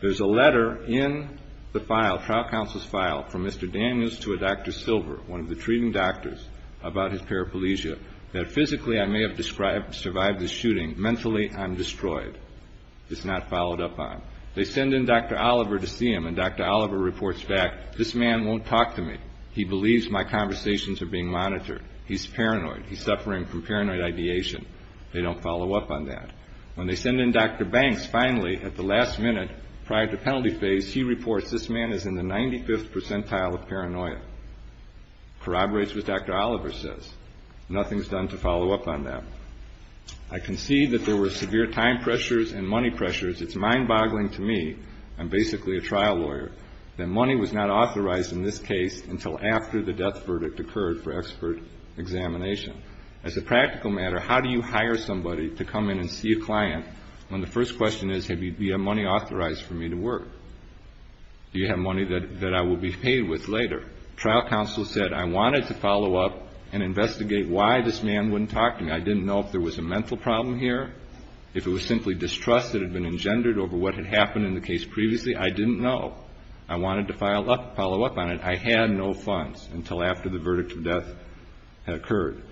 There's a letter in the file, trial counsel's file, from Mr. Daniels to a Dr. Silver, one of the treating doctors, about his paraplegia, that physically I may have survived the shooting. Mentally, I'm destroyed. It's not followed up on. They send in Dr. Oliver to see him, and Dr. Oliver reports back, this man won't talk to me. He believes my conversations are being monitored. He's paranoid. He's suffering from paranoid ideation. They don't follow up on that. When they send in Dr. Banks, finally, at the last minute prior to penalty phase, he reports this man is in the 95th percentile of paranoia. Corroborates what Dr. Oliver says. Nothing is done to follow up on that. I concede that there were severe time pressures and money pressures. It's mind-boggling to me, I'm basically a trial lawyer, that money was not authorized in this case until after the death verdict occurred for expert examination. As a practical matter, how do you hire somebody to come in and see a client when the first question is, do you have money authorized for me to work? Do you have money that I will be paid with later? Trial counsel said, I wanted to follow up and investigate why this man wouldn't talk to me. I didn't know if there was a mental problem here, if it was simply distrust that had been engendered over what had happened in the case previously. I didn't know. I wanted to follow up on it. I had no funds until after the verdict of death had occurred.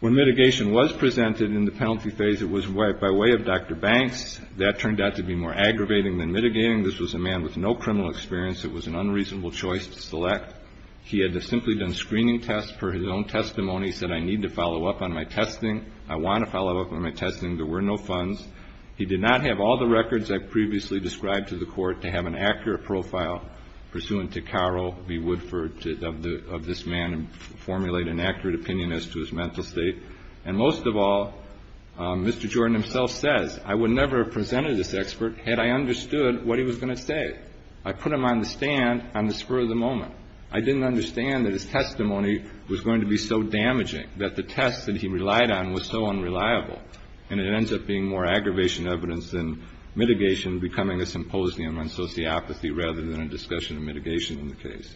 When mitigation was presented in the penalty phase, it was by way of Dr. Banks. That turned out to be more aggravating than mitigating. This was a man with no criminal experience. It was an unreasonable choice to select. He had distinctly done screening tests for his own testimony. He said, I need to follow up on my testing. I want to follow up on my testing. There were no funds. He did not have all the records I previously described to the court to have an accurate profile, pursuant to Carl B. Woodford, of this man, and formulate an accurate opinion as to his mental state. And most of all, Mr. Jordan himself says, I would never have presented this expert had I understood what he was going to say. I put him on the stand on the spur of the moment. I didn't understand that his testimony was going to be so damaging, that the test that he relied on was so unreliable. And it ends up being more aggravation evidence than mitigation, becoming a symposium on sociopathy rather than a discussion of mitigation in the case.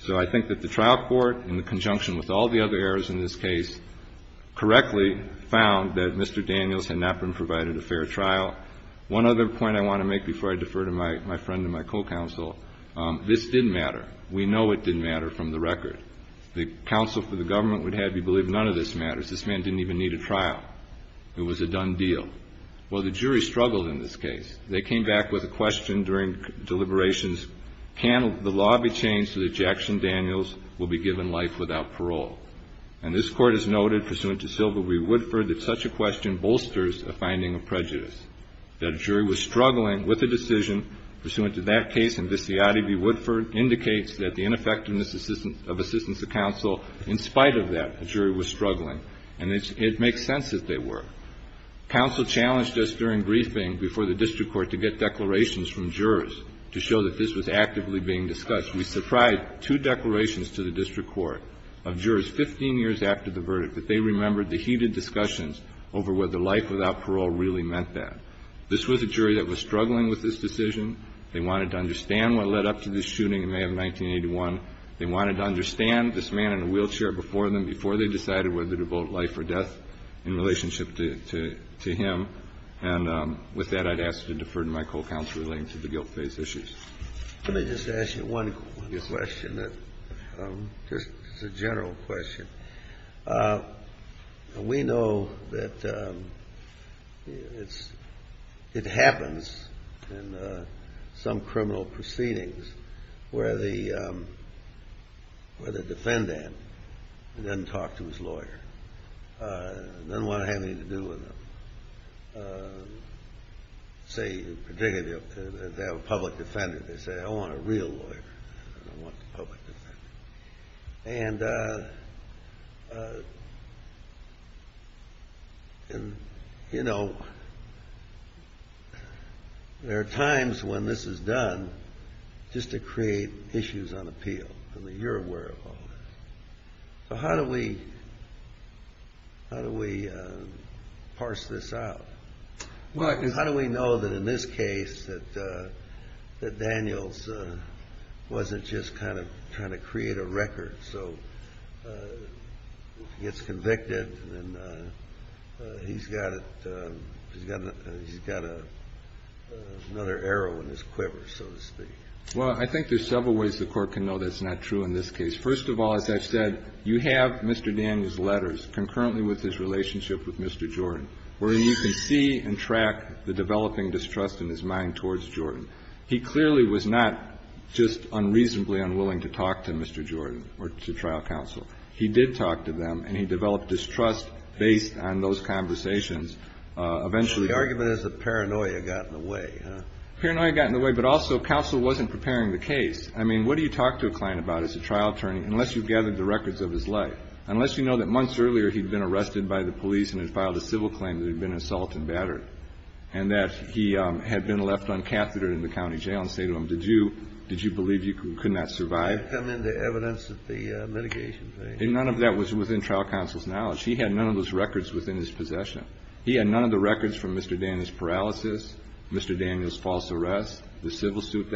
So I think that the trial court, in conjunction with all the other errors in this case, correctly found that Mr. Daniels had not been provided a fair trial. One other point I want to make before I defer to my friend and my co-counsel, this didn't matter. We know it didn't matter from the record. The counsel for the government would have you believe none of this matters. This man didn't even need a trial. It was a done deal. Well, the jury struggled in this case. They came back with a question during deliberations. Can the law be changed so that Jackson Daniels will be given life without parole? And this court has noted, pursuant to Silva v. Woodford, that such a question bolsters a finding of prejudice. That a jury was struggling with a decision, pursuant to that case, and Viziotti v. Woodford indicates that the ineffectiveness of assistance to counsel, in spite of that, the jury was struggling. And it makes sense that they were. Counsel challenged us during briefing before the district court to get declarations from jurors to show that this was actively being discussed. We surprised two declarations to the district court of jurors 15 years after the verdict that they remembered the heated discussions over whether life without parole really meant that. This was a jury that was struggling with this decision. They wanted to understand what led up to this shooting in May of 1981. They wanted to understand this man in a wheelchair before them, before they decided whether to vote life or death in relationship to him. And with that, I'd ask to defer to my co-counsel, relating to the guilt-based issues. Let me just ask you one quick question, just a general question. We know that it happens in some criminal proceedings where the defendant doesn't talk to his lawyer, doesn't want to have anything to do with him. Say, particularly if they have a public defender, they say, I want a real lawyer. And, you know, there are times when this is done just to create issues on appeal that you're aware of. So how do we parse this out? Well, how do we know that in this case that Daniels wasn't just kind of trying to create a record? So he gets convicted and he's got another arrow in his quiver, so to speak. Well, I think there's several ways the court can know that's not true in this case. First of all, as I said, you have Mr. Daniels' letters concurrently with his relationship with Mr. Jordan, wherein you can see and track the developing distrust in his mind towards Jordan. He clearly was not just unreasonably unwilling to talk to Mr. Jordan or to trial counsel. He did talk to them, and he developed distrust based on those conversations. The argument is that paranoia got in the way. Paranoia got in the way, but also counsel wasn't preparing the case. I mean, what do you talk to a client about as a trial attorney unless you've gathered the records of his life, unless you know that months earlier he'd been arrested by the police and had filed a civil claim that he'd been assaulted and battered and that he had been left uncathetered in the county jail and say to him, did you believe you could not survive? And then the evidence of the mitigation thing. And none of that was within trial counsel's knowledge. He had none of those records within his possession. He had none of the records from Mr. Daniels' paralysis, Mr. Daniels' false arrest, the civil suit.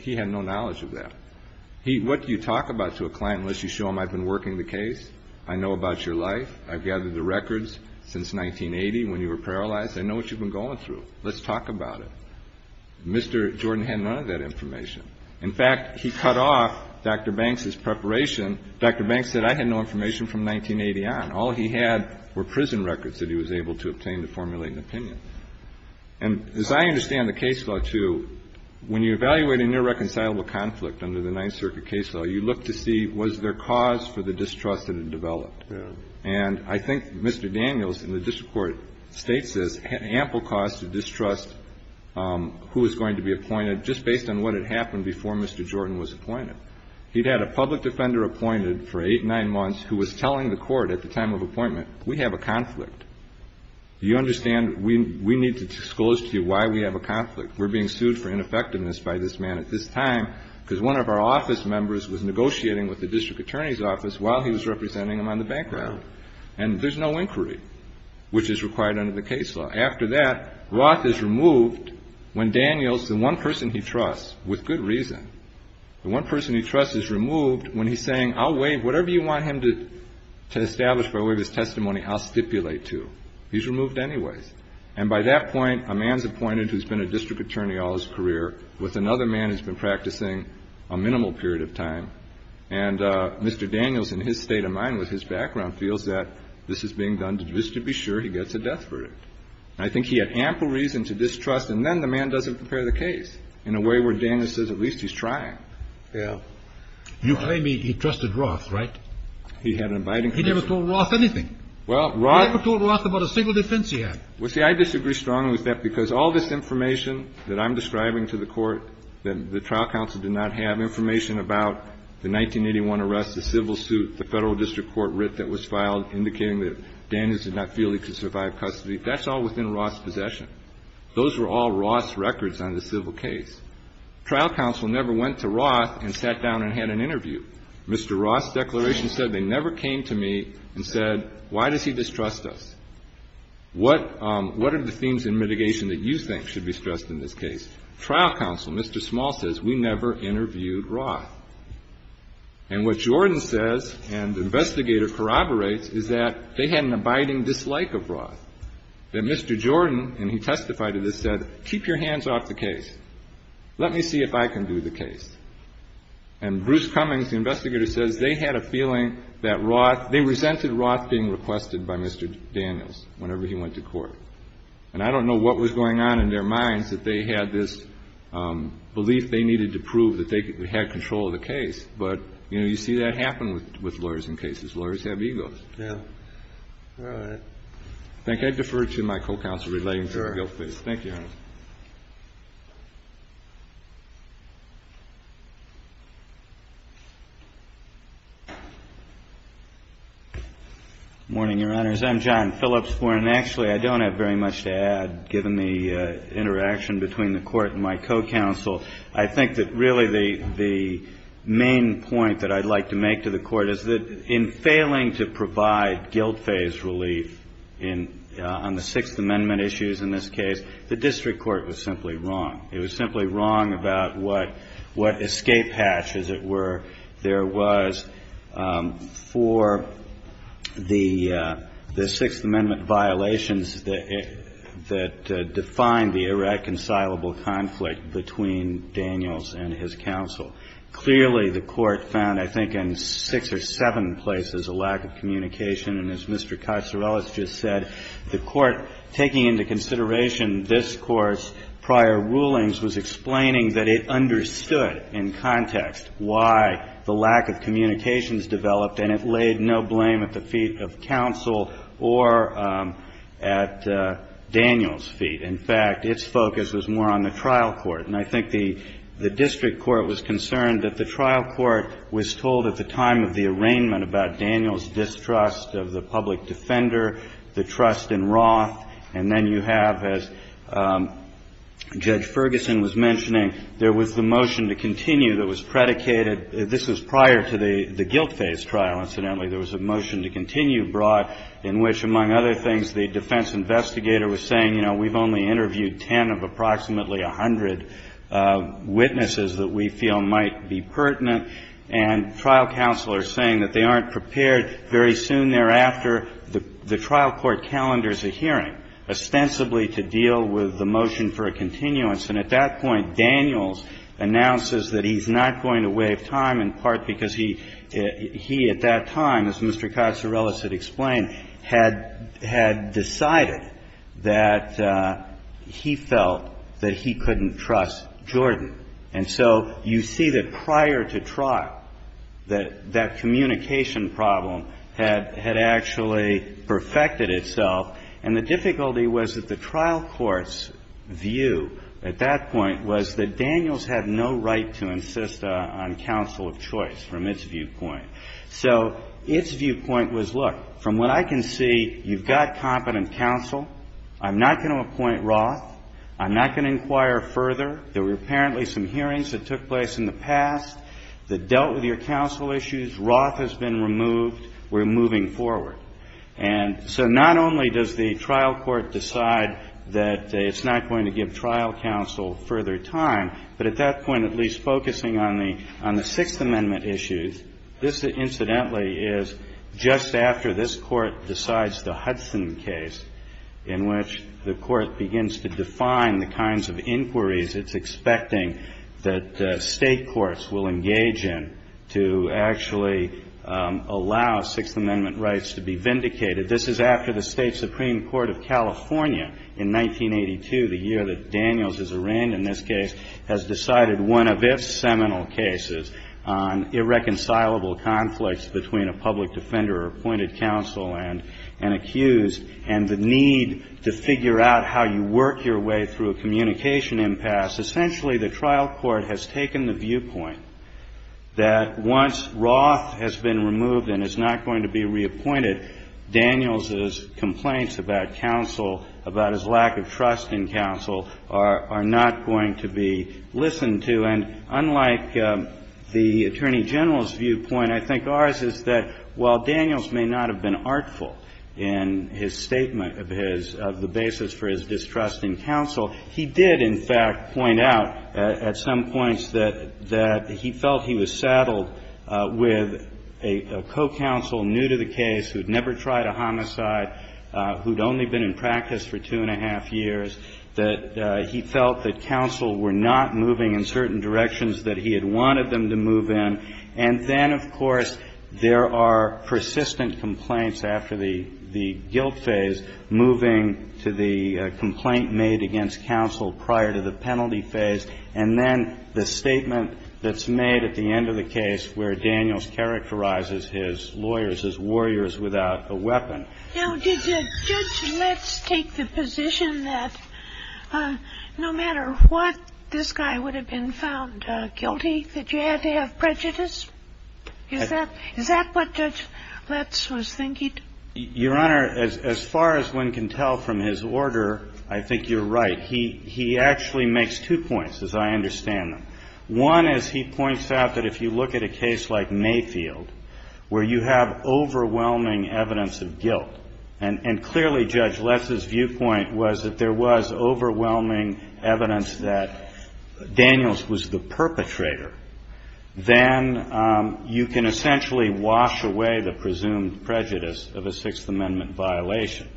He had no knowledge of that. What do you talk about to a client unless you show them I've been working the case, I know about your life, I've gathered the records since 1980 when you were paralyzed, I know what you've been going through. Let's talk about it. Mr. Jordan had none of that information. In fact, he cut off Dr. Banks' preparation. Dr. Banks said I had no information from 1980 on. All he had were prison records that he was able to obtain to formulate an opinion. And as I understand the case law too, when you evaluate a near-reconcilable conflict under the Ninth Circuit case law, you look to see was there cause for the distrust that had developed. And I think Mr. Daniels in the district court states there's ample cause to distrust who is going to be appointed just based on what had happened before Mr. Jordan was appointed. He'd had a public defender appointed for eight, nine months who was telling the court at the time of appointment, we have a conflict. Do you understand that we need to disclose to you why we have a conflict? We're being sued for ineffectiveness by this man at this time because one of our office members was negotiating with the district attorney's office while he was representing him on the bank robbery. And there's no inquiry, which is required under the case law. After that, Roth is removed when Daniels, the one person he trusts, with good reason, the one person he trusts is removed when he's saying, whatever you want him to establish by way of his testimony, I'll stipulate to. He's removed anyway. And by that point, a man's appointed who's been a district attorney all his career with another man who's been practicing a minimal period of time. And Mr. Daniels, in his state of mind with his background, feels that this is being done just to be sure he gets a death verdict. And I think he had ample reason to distrust, and then the man doesn't prepare the case in a way where Daniels says at least he's trying. You claim he trusted Roth, right? He had an abiding conviction. He never told Roth anything. Well, Roth... He never told Roth about a single defense he had. Well, see, I disagree strongly with that because all this information that I'm describing to the court, that the trial counsel did not have information about the 1981 arrest, the civil suit, the federal district court writ that was filed indicating that Daniels did not feel he could survive custody, that's all within Roth's possession. Those were all Roth's records on the civil case. Trial counsel never went to Roth and sat down and had an interview. Mr. Roth's declaration said they never came to me and said, why does he distrust us? What are the themes in mitigation that you think should be stressed in this case? Trial counsel, Mr. Small says, we never interviewed Roth. And what Jordan says, and the investigator corroborates, is that they had an abiding dislike of Roth. That Mr. Jordan, and he testified to this, said, keep your hands off the case. Let me see if I can do the case. And Bruce Cummings, the investigator, says they had a feeling that Roth, they resented Roth being requested by Mr. Daniels whenever he went to court. And I don't know what was going on in their minds that they had this belief they needed to prove that they had control of the case. But, you know, you see that happen with lawyers in cases. Lawyers have egos. All right. Thank you. I defer to my co-counsel relating to the guilt case. Thank you, Your Honor. Good morning, Your Honors. I'm John Phillips. Actually, I don't have very much to add, given the interaction between the Court and my co-counsel. I think that really the main point that I'd like to make to the Court is that in failing to provide guilt-based relief on the Sixth Amendment issues in this case, the district court was simply wrong. It was simply wrong about what escape hatch, as it were, there was for the Sixth Amendment violations that defined the irreconcilable conflict between Daniels and his counsel. Clearly, the Court found, I think, in six or seven places a lack of communication. And as Mr. Kaiserelis just said, the Court, taking into consideration this Court's prior rulings, was explaining that it understood in context why the lack of communication has developed, and it laid no blame at the feet of counsel or at Daniels' feet. In fact, its focus was more on the trial court. And I think the district court was concerned that the trial court was told at the time of the arraignment about Daniels' distrust of the public defender, the trust in Roth. And then you have, as Judge Ferguson was mentioning, there was the motion to continue that was predicated. This was prior to the guilt-based trial, incidentally. There was a motion to continue, Roth, in which, among other things, the defense investigator was saying, you know, we've only interviewed 10 of approximately 100 witnesses that we feel might be pertinent. And trial counsel are saying that they aren't prepared. Very soon thereafter, the trial court calendars a hearing, ostensibly to deal with the motion for a continuance. And at that point, Daniels announces that he's not going to waive time, in part because he, at that time, as Mr. Casarellas had explained, had decided that he felt that he couldn't trust Jordan. And so you see that prior to trial, that that communication problem had actually perfected itself. And the difficulty was that the trial court's view at that point was that Daniels had no right to insist on counsel of choice from its viewpoint. So its viewpoint was, look, from what I can see, you've got competent counsel. I'm not going to appoint Roth. I'm not going to inquire further. There were apparently some hearings that took place in the past that dealt with your counsel issues. Roth has been removed. We're moving forward. And so not only does the trial court decide that it's not going to give trial counsel further time, but at that point, at least focusing on the Sixth Amendment issues, this incidentally is just after this court decides the Hudson case, in which the court begins to define the kinds of inquiries it's expecting that state courts will engage in to actually allow Sixth Amendment rights to be vindicated. This is after the State Supreme Court of California in 1982, the year that Daniels is arraigned in this case, has decided one of its seminal cases on irreconcilable conflicts between a public defender or appointed counsel and an accused and the need to figure out how you work your way through a communication impasse. Essentially, the trial court has taken the viewpoint that once Roth has been removed and is not going to be reappointed, Daniels' complaints about counsel, about his lack of trust in counsel, are not going to be listened to. And unlike the Attorney General's viewpoint, I think ours is that while Daniels may not have been artful in his statement of his distrust in counsel, he did, in fact, point out at some points that he felt he was saddled with a co-counsel new to the case who'd never tried a homicide, who'd only been in practice for two and a half years, that he felt that counsel were not moving in certain directions that he had wanted them to move in. And then, of course, there are persistent complaints after the guilt phase, moving to the complaint made against counsel prior to the penalty phase, and then the statement that's made at the end of the case where Daniels characterizes his lawyers as warriors without a weapon. Now, did Judge Letts take the position that no matter what, this guy would have been found guilty? Did you have to have prejudice? Is that what Judge Letts was thinking? Your Honor, as far as one can tell from his order, I think you're right. He actually makes two points, as I understand them. One is he points out that if you look at a case like Mayfield, where you have overwhelming evidence of guilt, and clearly Judge Letts' viewpoint was that there was overwhelming evidence that Daniels was the perpetrator, then you can essentially wash away the presumed prejudice of a Sixth Amendment violation.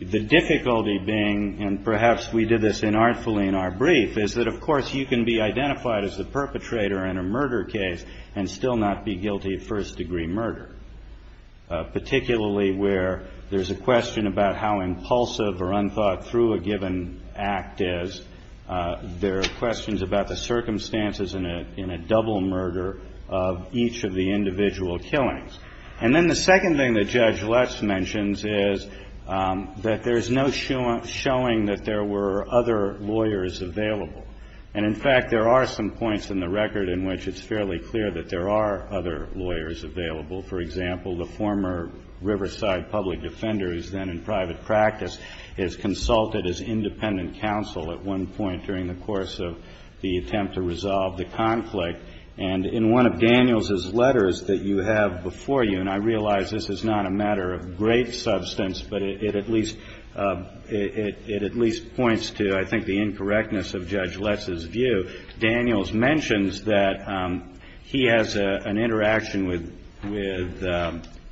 The difficulty being, and perhaps we did this inartfully in our brief, is that, of course, you can be identified as the perpetrator in a murder case and still not be guilty of first-degree murder, particularly where there's a question about how impulsive or unthought-through a given act is. There are questions about the circumstances in a double murder of each of the individual killings. And then the second thing that Judge Letts mentions is that there's no showing that there were other lawyers available. And, in fact, there are some points in the record in which it's fairly clear that there are other lawyers available. For example, the former Riverside public defender, who's then in private practice, is consulted as independent counsel at one point during the course of the attempt to resolve the conflict. And in one of Daniels' letters that you have before you, and I realize this is not a matter of great substance, but it at least points to, I think, the incorrectness of Judge Letts' view, Daniels mentions that he has an interaction with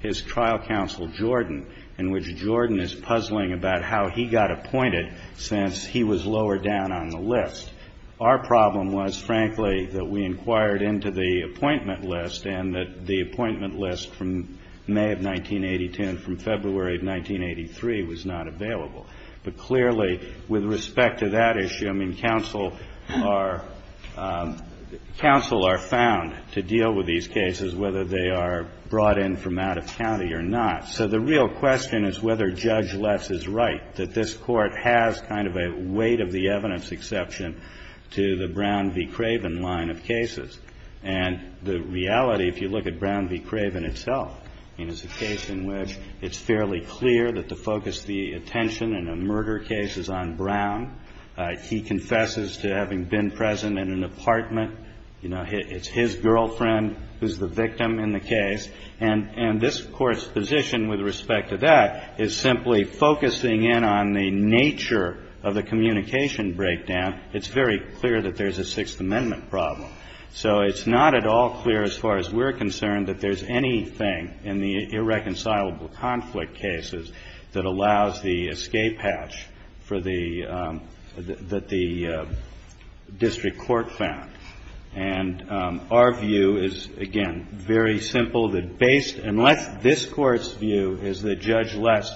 his trial counsel, Jordan, in which Jordan is puzzling about how he got appointed since he was lower down on the list. Our problem was, frankly, that we inquired into the appointment list and that the appointment list from May of 1982 and from February of 1983 was not available. But clearly, with respect to that issue, I mean, counsel are found to deal with these cases, whether they are brought in from out of county or not. So the real question is whether Judge Letts is right, that this court has kind of a weight-of-the-evidence exception to the Brown v. Craven line of cases. And the reality, if you look at Brown v. Craven itself, is a case in which it's fairly clear that the focus, the attention in a murder case, is on Brown. He confesses to having been present in an apartment. It's his girlfriend who's the victim in the case. And this Court's position with respect to that is simply focusing in on the nature of the communication breakdown. It's very clear that there's a Sixth Amendment problem. So it's not at all clear, as far as we're concerned, that there's anything in the irreconcilable conflict cases that allows the escape hatch that the district court found. And our view is, again, very simple, that based on what this Court's view is that Judge Letts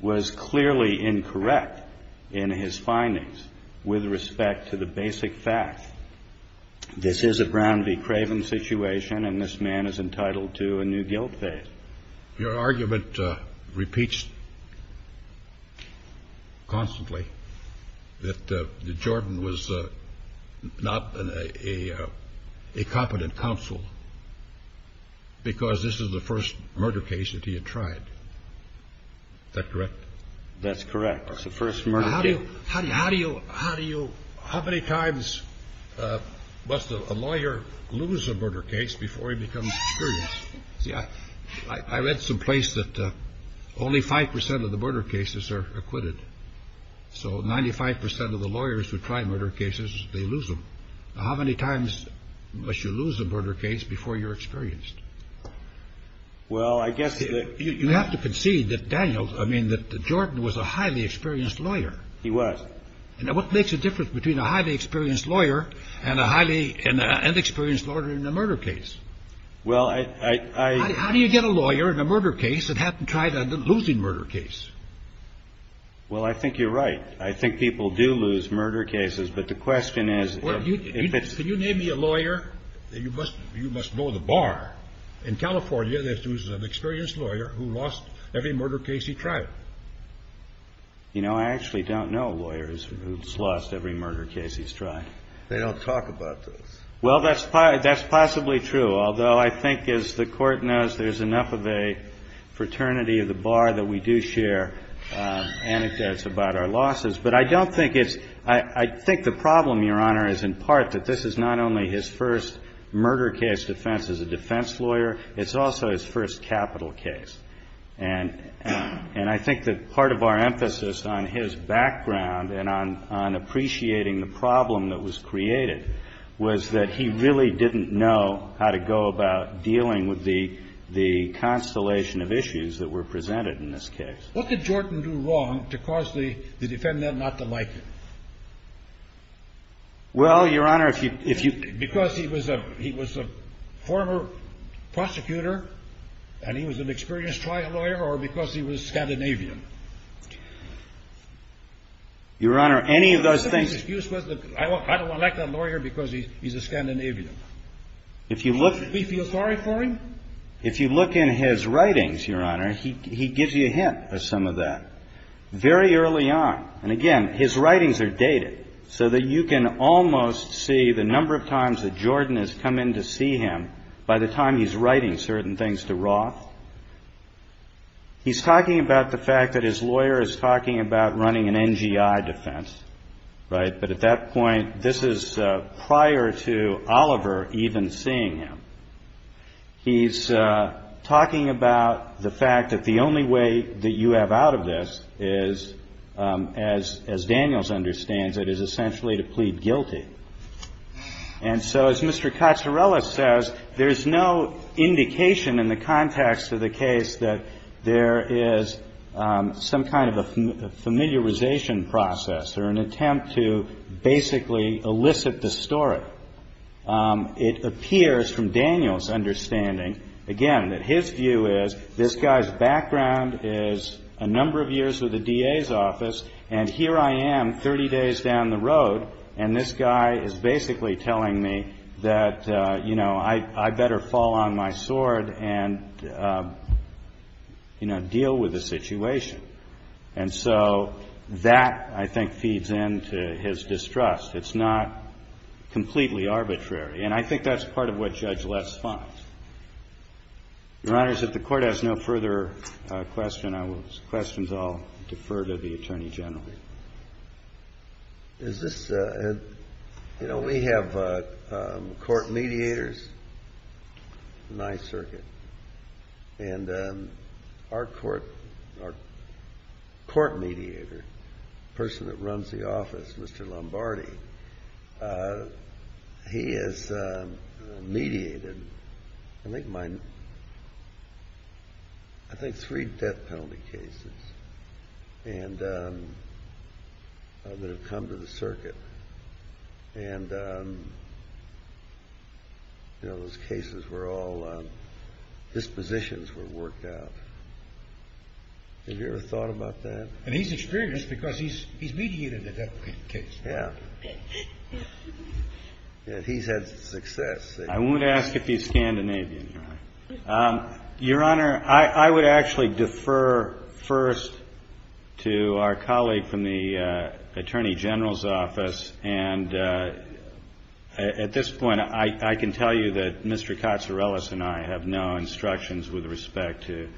was clearly incorrect in his findings with respect to the basic fact that this is a Brown v. Craven situation and this man is entitled to a new guilt base. Your argument repeats constantly that Jordan was not a competent counsel because this is the first murder case that he had tried. Is that correct? That's correct. It's the first murder case. How many times must a lawyer lose a murder case before he becomes experienced? I read some place that only five percent of the murder cases are acquitted. So 95 percent of the lawyers who try murder cases, they lose them. How many times must you lose a murder case before you're experienced? You have to concede that Jordan was a highly experienced lawyer. He was. What makes a difference between a highly experienced lawyer and an inexperienced lawyer in a murder case? How do you get a lawyer in a murder case that hasn't tried a losing murder case? Well, I think you're right. I think people do lose murder cases. Can you name me a lawyer that you must know the bar? In California, there's an experienced lawyer who lost every murder case he tried. You know, I actually don't know lawyers who've lost every murder case he's tried. They don't talk about this. Well, that's possibly true. Although I think, as the Court knows, there's enough of a fraternity of the bar that we do share anecdotes about our losses. But I don't think it's – I think the problem, Your Honor, is in part that this is not only his first murder case defense as a defense lawyer. It's also his first capital case. And I think that part of our emphasis on his background and on appreciating the problem that was created was that he really didn't know how to go about dealing with the constellation of issues that were presented in this case. What did Jordan do wrong to cause the defendant not to like him? Well, Your Honor, if you – Because he was a former prosecutor, and he was an experienced trial lawyer, or because he was Scandinavian? Your Honor, any of those things – What's the biggest excuse? How do I like that lawyer because he's a Scandinavian? If you look – Do we feel sorry for him? If you look in his writings, Your Honor, he gives you a hint of some of that very early on. And again, his writings are dated so that you can almost see the number of times that Jordan has come in to see him by the time he's writing certain things to Roth. He's talking about the fact that his lawyer is talking about running an NGI defense, right? But at that point, this is prior to Oliver even seeing him. He's talking about the fact that the only way that you have out of this is, as Daniels understands it, is essentially to plead guilty. And so, as Mr. Cazzarella says, there's no indication in the context of the case that there is some kind of a familiarization process or an attempt to basically elicit the story. It appears from Daniels' understanding, again, that his view is this guy's background is a number of years with the DA's office, and here I am 30 days down the road, and this guy is basically telling me that, you know, I'd better fall on my sword and, you know, deal with the situation. And so that, I think, feeds into his distrust. It's not completely arbitrary. And I think that's part of what Judge Less finds. Your Honor, since the Court has no further questions, I will defer to the Attorney General. Is this, you know, we have court mediators in my circuit, and our court mediator, the person that runs the office, Mr. Lombardi, he has mediated, I think, three death penalty cases that have come to the circuit. And, you know, those cases were all dispositions were worked out. Have you ever thought about that? And he's experienced because he's mediated a death penalty case. Yeah. He's had success. I won't ask if he's Scandinavian, Your Honor. Your Honor, I would actually defer first to our colleague from the Attorney General's office, and at this point, I can tell you that Mr. Katsourelis and I have no instructions with respect to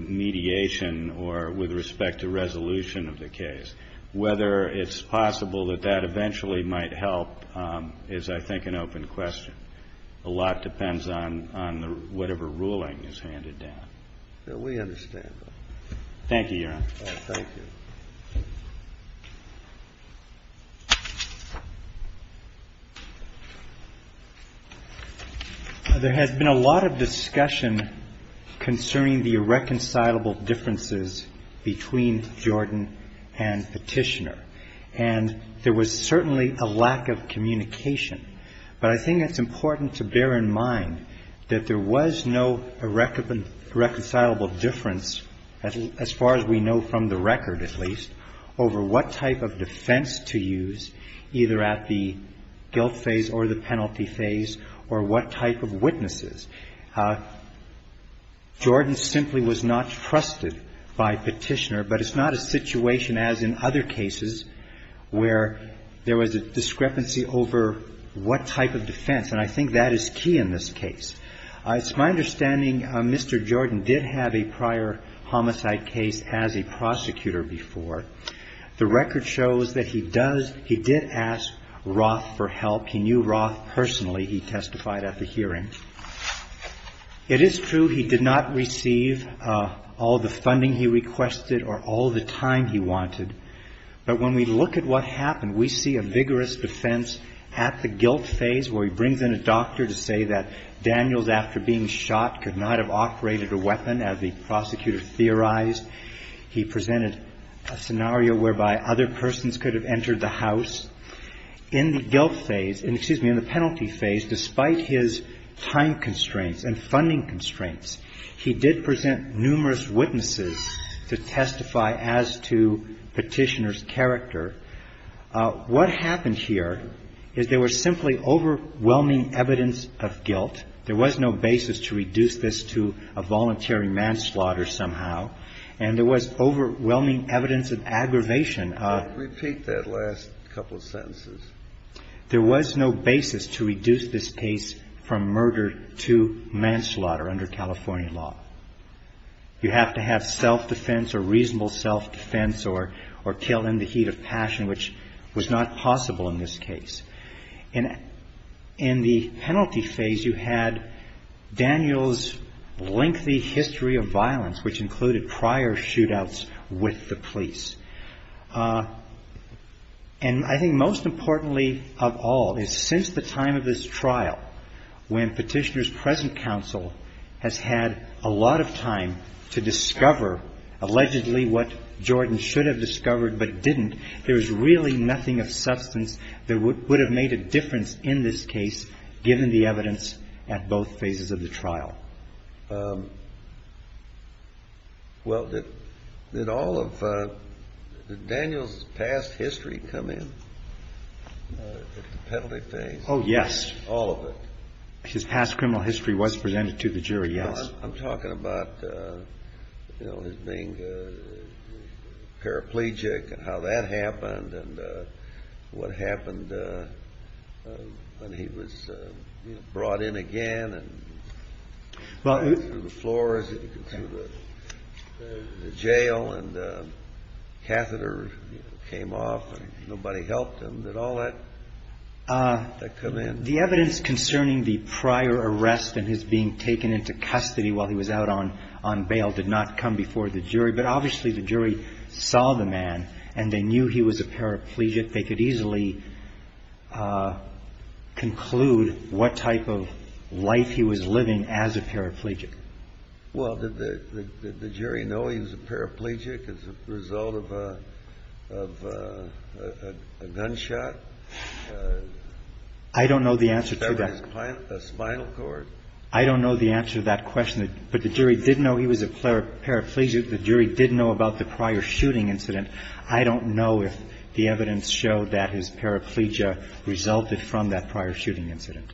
mediation or with respect to resolution of the case. Whether it's possible that that eventually might help is, I think, an open question. A lot depends on whatever ruling is handed down. We understand that. Thank you, Your Honor. Thank you. Thank you. There has been a lot of discussion concerning the irreconcilable differences between Jordan and Petitioner, and there was certainly a lack of communication. But I think it's important to bear in mind that there was no irreconcilable difference, as far as we know from the record at least, over what type of defense to use, either at the guilt phase or the penalty phase, or what type of witnesses. Jordan simply was not trusted by Petitioner, but it's not a situation as in other cases where there was a discrepancy over what type of defense, and I think that is key in this case. It's my understanding Mr. Jordan did have a prior homicide case as a prosecutor before. The record shows that he did ask Roth for help. He knew Roth personally. He testified at the hearing. It is true he did not receive all the funding he requested or all the time he wanted, but when we look at what happened, we see a vigorous defense at the guilt phase where he brings in a doctor to say that Daniels, after being shot, could not have operated a weapon, as the prosecutor theorized. He presented a scenario whereby other persons could have entered the house. In the penalty phase, despite his time constraints and funding constraints, he did present numerous witnesses to testify as to Petitioner's character. What happened here is there was simply overwhelming evidence of guilt. There was no basis to reduce this to a voluntary manslaughter somehow, and there was overwhelming evidence of aggravation. Repeat that last couple of sentences. There was no basis to reduce this case from murder to manslaughter under California law. You have to have self-defense or reasonable self-defense or kill in the heat of passion, which was not possible in this case. In the penalty phase, you had Daniels' lengthy history of violence, which included prior shootouts with the police. And I think most importantly of all, is since the time of this trial, when Petitioner's present counsel has had a lot of time to discover, allegedly, what Jordan should have discovered but didn't, there is really nothing of substance that would have made a difference in this case, given the evidence at both phases of the trial. Well, did Daniels' past history come in at the penalty phase? Oh, yes. All of it. His past criminal history was presented to the jury, yes. I'm talking about his being paraplegic and how that happened and what happened when he was brought in again, and the floor of the jail and the catheter came off and nobody helped him. Did all that come in? The evidence concerning the prior arrest and his being taken into custody while he was out on bail did not come before the jury, but obviously the jury saw the man and they knew he was a paraplegic. They could easily conclude what type of life he was living as a paraplegic. Well, did the jury know he was a paraplegic as a result of a gunshot? I don't know the answer to that. A spinal cord? I don't know the answer to that question, but the jury did know he was a paraplegic. If the jury did know about the prior shooting incident, I don't know if the evidence showed that his paraplegia resulted from that prior shooting incident.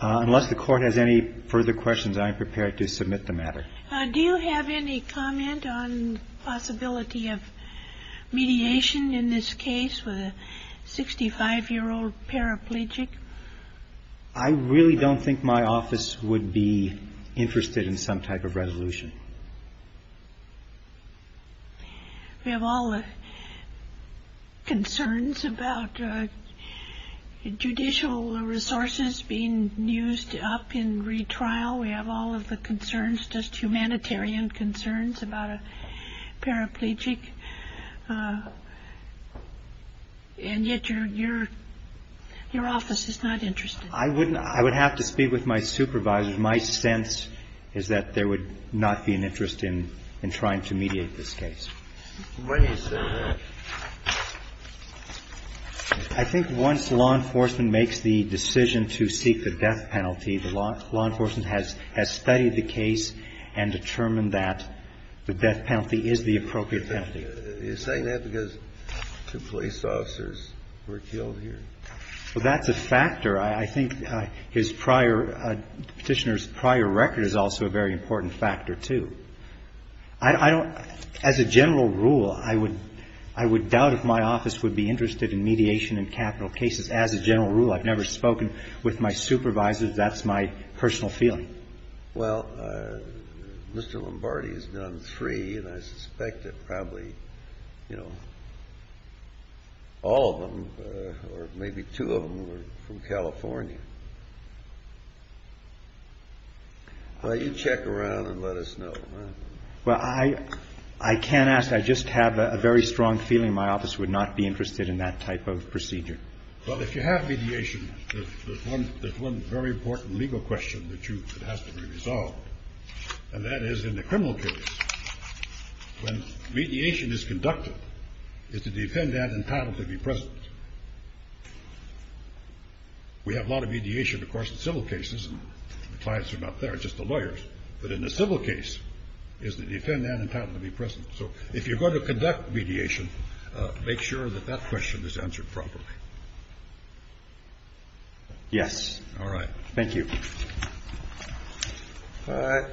Unless the Court has any further questions, I am prepared to submit the matter. Do you have any comment on the possibility of mediation in this case with a 65-year-old paraplegic? I really don't think my office would be interested in some type of resolution. We have all the concerns about judicial resources being used up in retrial. We have all of the concerns, just humanitarian concerns about a paraplegic. And yet your office is not interested. I would have to speak with my supervisor. My sense is that there would not be an interest in trying to mediate this case. Let me say that. I think once law enforcement makes the decision to seek the death penalty, the law enforcement has studied the case and determined that the death penalty is the appropriate penalty. You're saying that because the police officers were killed here? That's a factor. I think the Petitioner's prior record is also a very important factor, too. As a general rule, I would doubt if my office would be interested in mediation in capital cases. As a general rule, I've never spoken with my supervisors. That's my personal feeling. Well, Mr. Lombardi has done three, and I suspect that probably all of them, or maybe two of them, were from California. Why don't you check around and let us know? Well, I can't ask. I just have a very strong feeling my office would not be interested in that type of procedure. Well, if you have mediation, there's one very important legal question that has to be resolved, and that is in the criminal case, when mediation is conducted, it's a defendant entitled to be present. We have a lot of mediation, of course, in civil cases. The clients are not there. It's just the lawyers. But in the civil case, it's the defendant entitled to be present. So if you're going to conduct mediation, make sure that that question is answered properly. Yes. All right. Thank you. All right.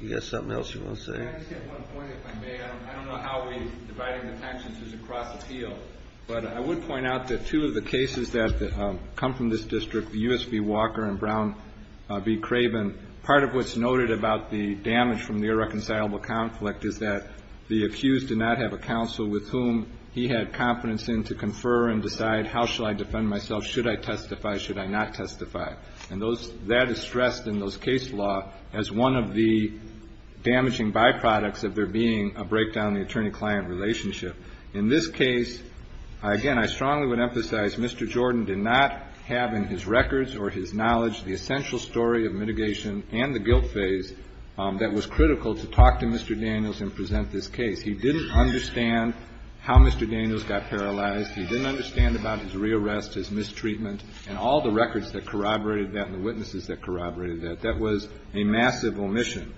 You got something else you want to say? Can I just get one point, if I may? I don't know how we divide the attention just across the field, but I would point out that two of the cases that come from this district, the U.S. v. Walker and Brown v. Craven, part of what's noted about the damage from the irreconcilable conflict is that the accused did not have a counsel with whom he had confidence in to confer and decide, how shall I defend myself? Should I testify? Should I not testify? And that is stressed in those case law as one of the damaging byproducts of there being a breakdown in the attorney-client relationship. In this case, again, I strongly would emphasize Mr. Jordan did not have in his records or his knowledge the essential story of mitigation and the guilt phase that was critical to talk to Mr. Daniels and present this case. He didn't understand how Mr. Daniels got paralyzed. He didn't understand about his rearrest, his mistreatment, and all the records that corroborated that and the witnesses that corroborated that. That was a massive omission.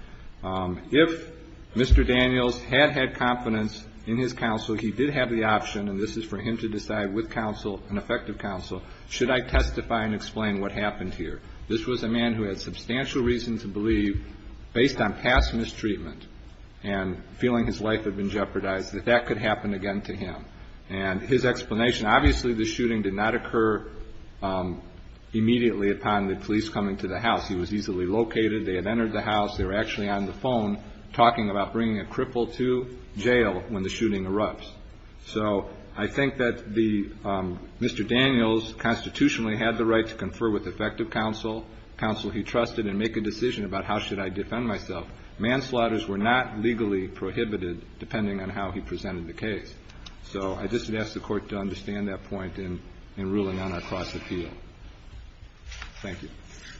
If Mr. Daniels had had confidence in his counsel, he did have the option, and this is for him to decide with counsel and effective counsel, should I testify and explain what happened here? This was a man who had substantial reason to believe, based on past mistreatment and feeling his life had been jeopardized, that that could happen again to him. And his explanation, obviously the shooting did not occur immediately upon the police coming to the house. He was easily located. They had entered the house. They were actually on the phone talking about bringing a cripple to jail when the shooting erupts. So I think that Mr. Daniels constitutionally had the right to confer with effective counsel, counsel he trusted, and make a decision about how should I defend myself. Manslaughters were not legally prohibited, depending on how he presented the case. So I just would ask the Court to understand that point in ruling on a cross appeal. Thank you.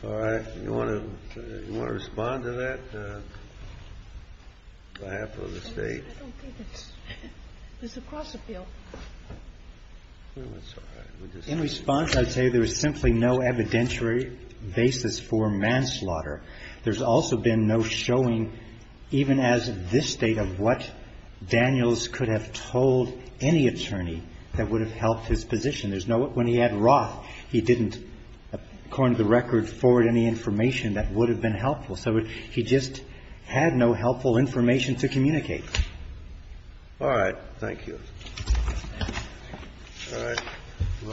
All right. You want to respond to that? I have to understate. There's a cross appeal. In response, I say there is simply no evidentiary basis for manslaughter. There's also been no showing, even as of this date, of what Daniels could have told any attorney that would have helped his position. When he had Roth, he didn't, according to the record, forward any information that would have been helpful. So he just had no helpful information to communicate. All right. Thank you.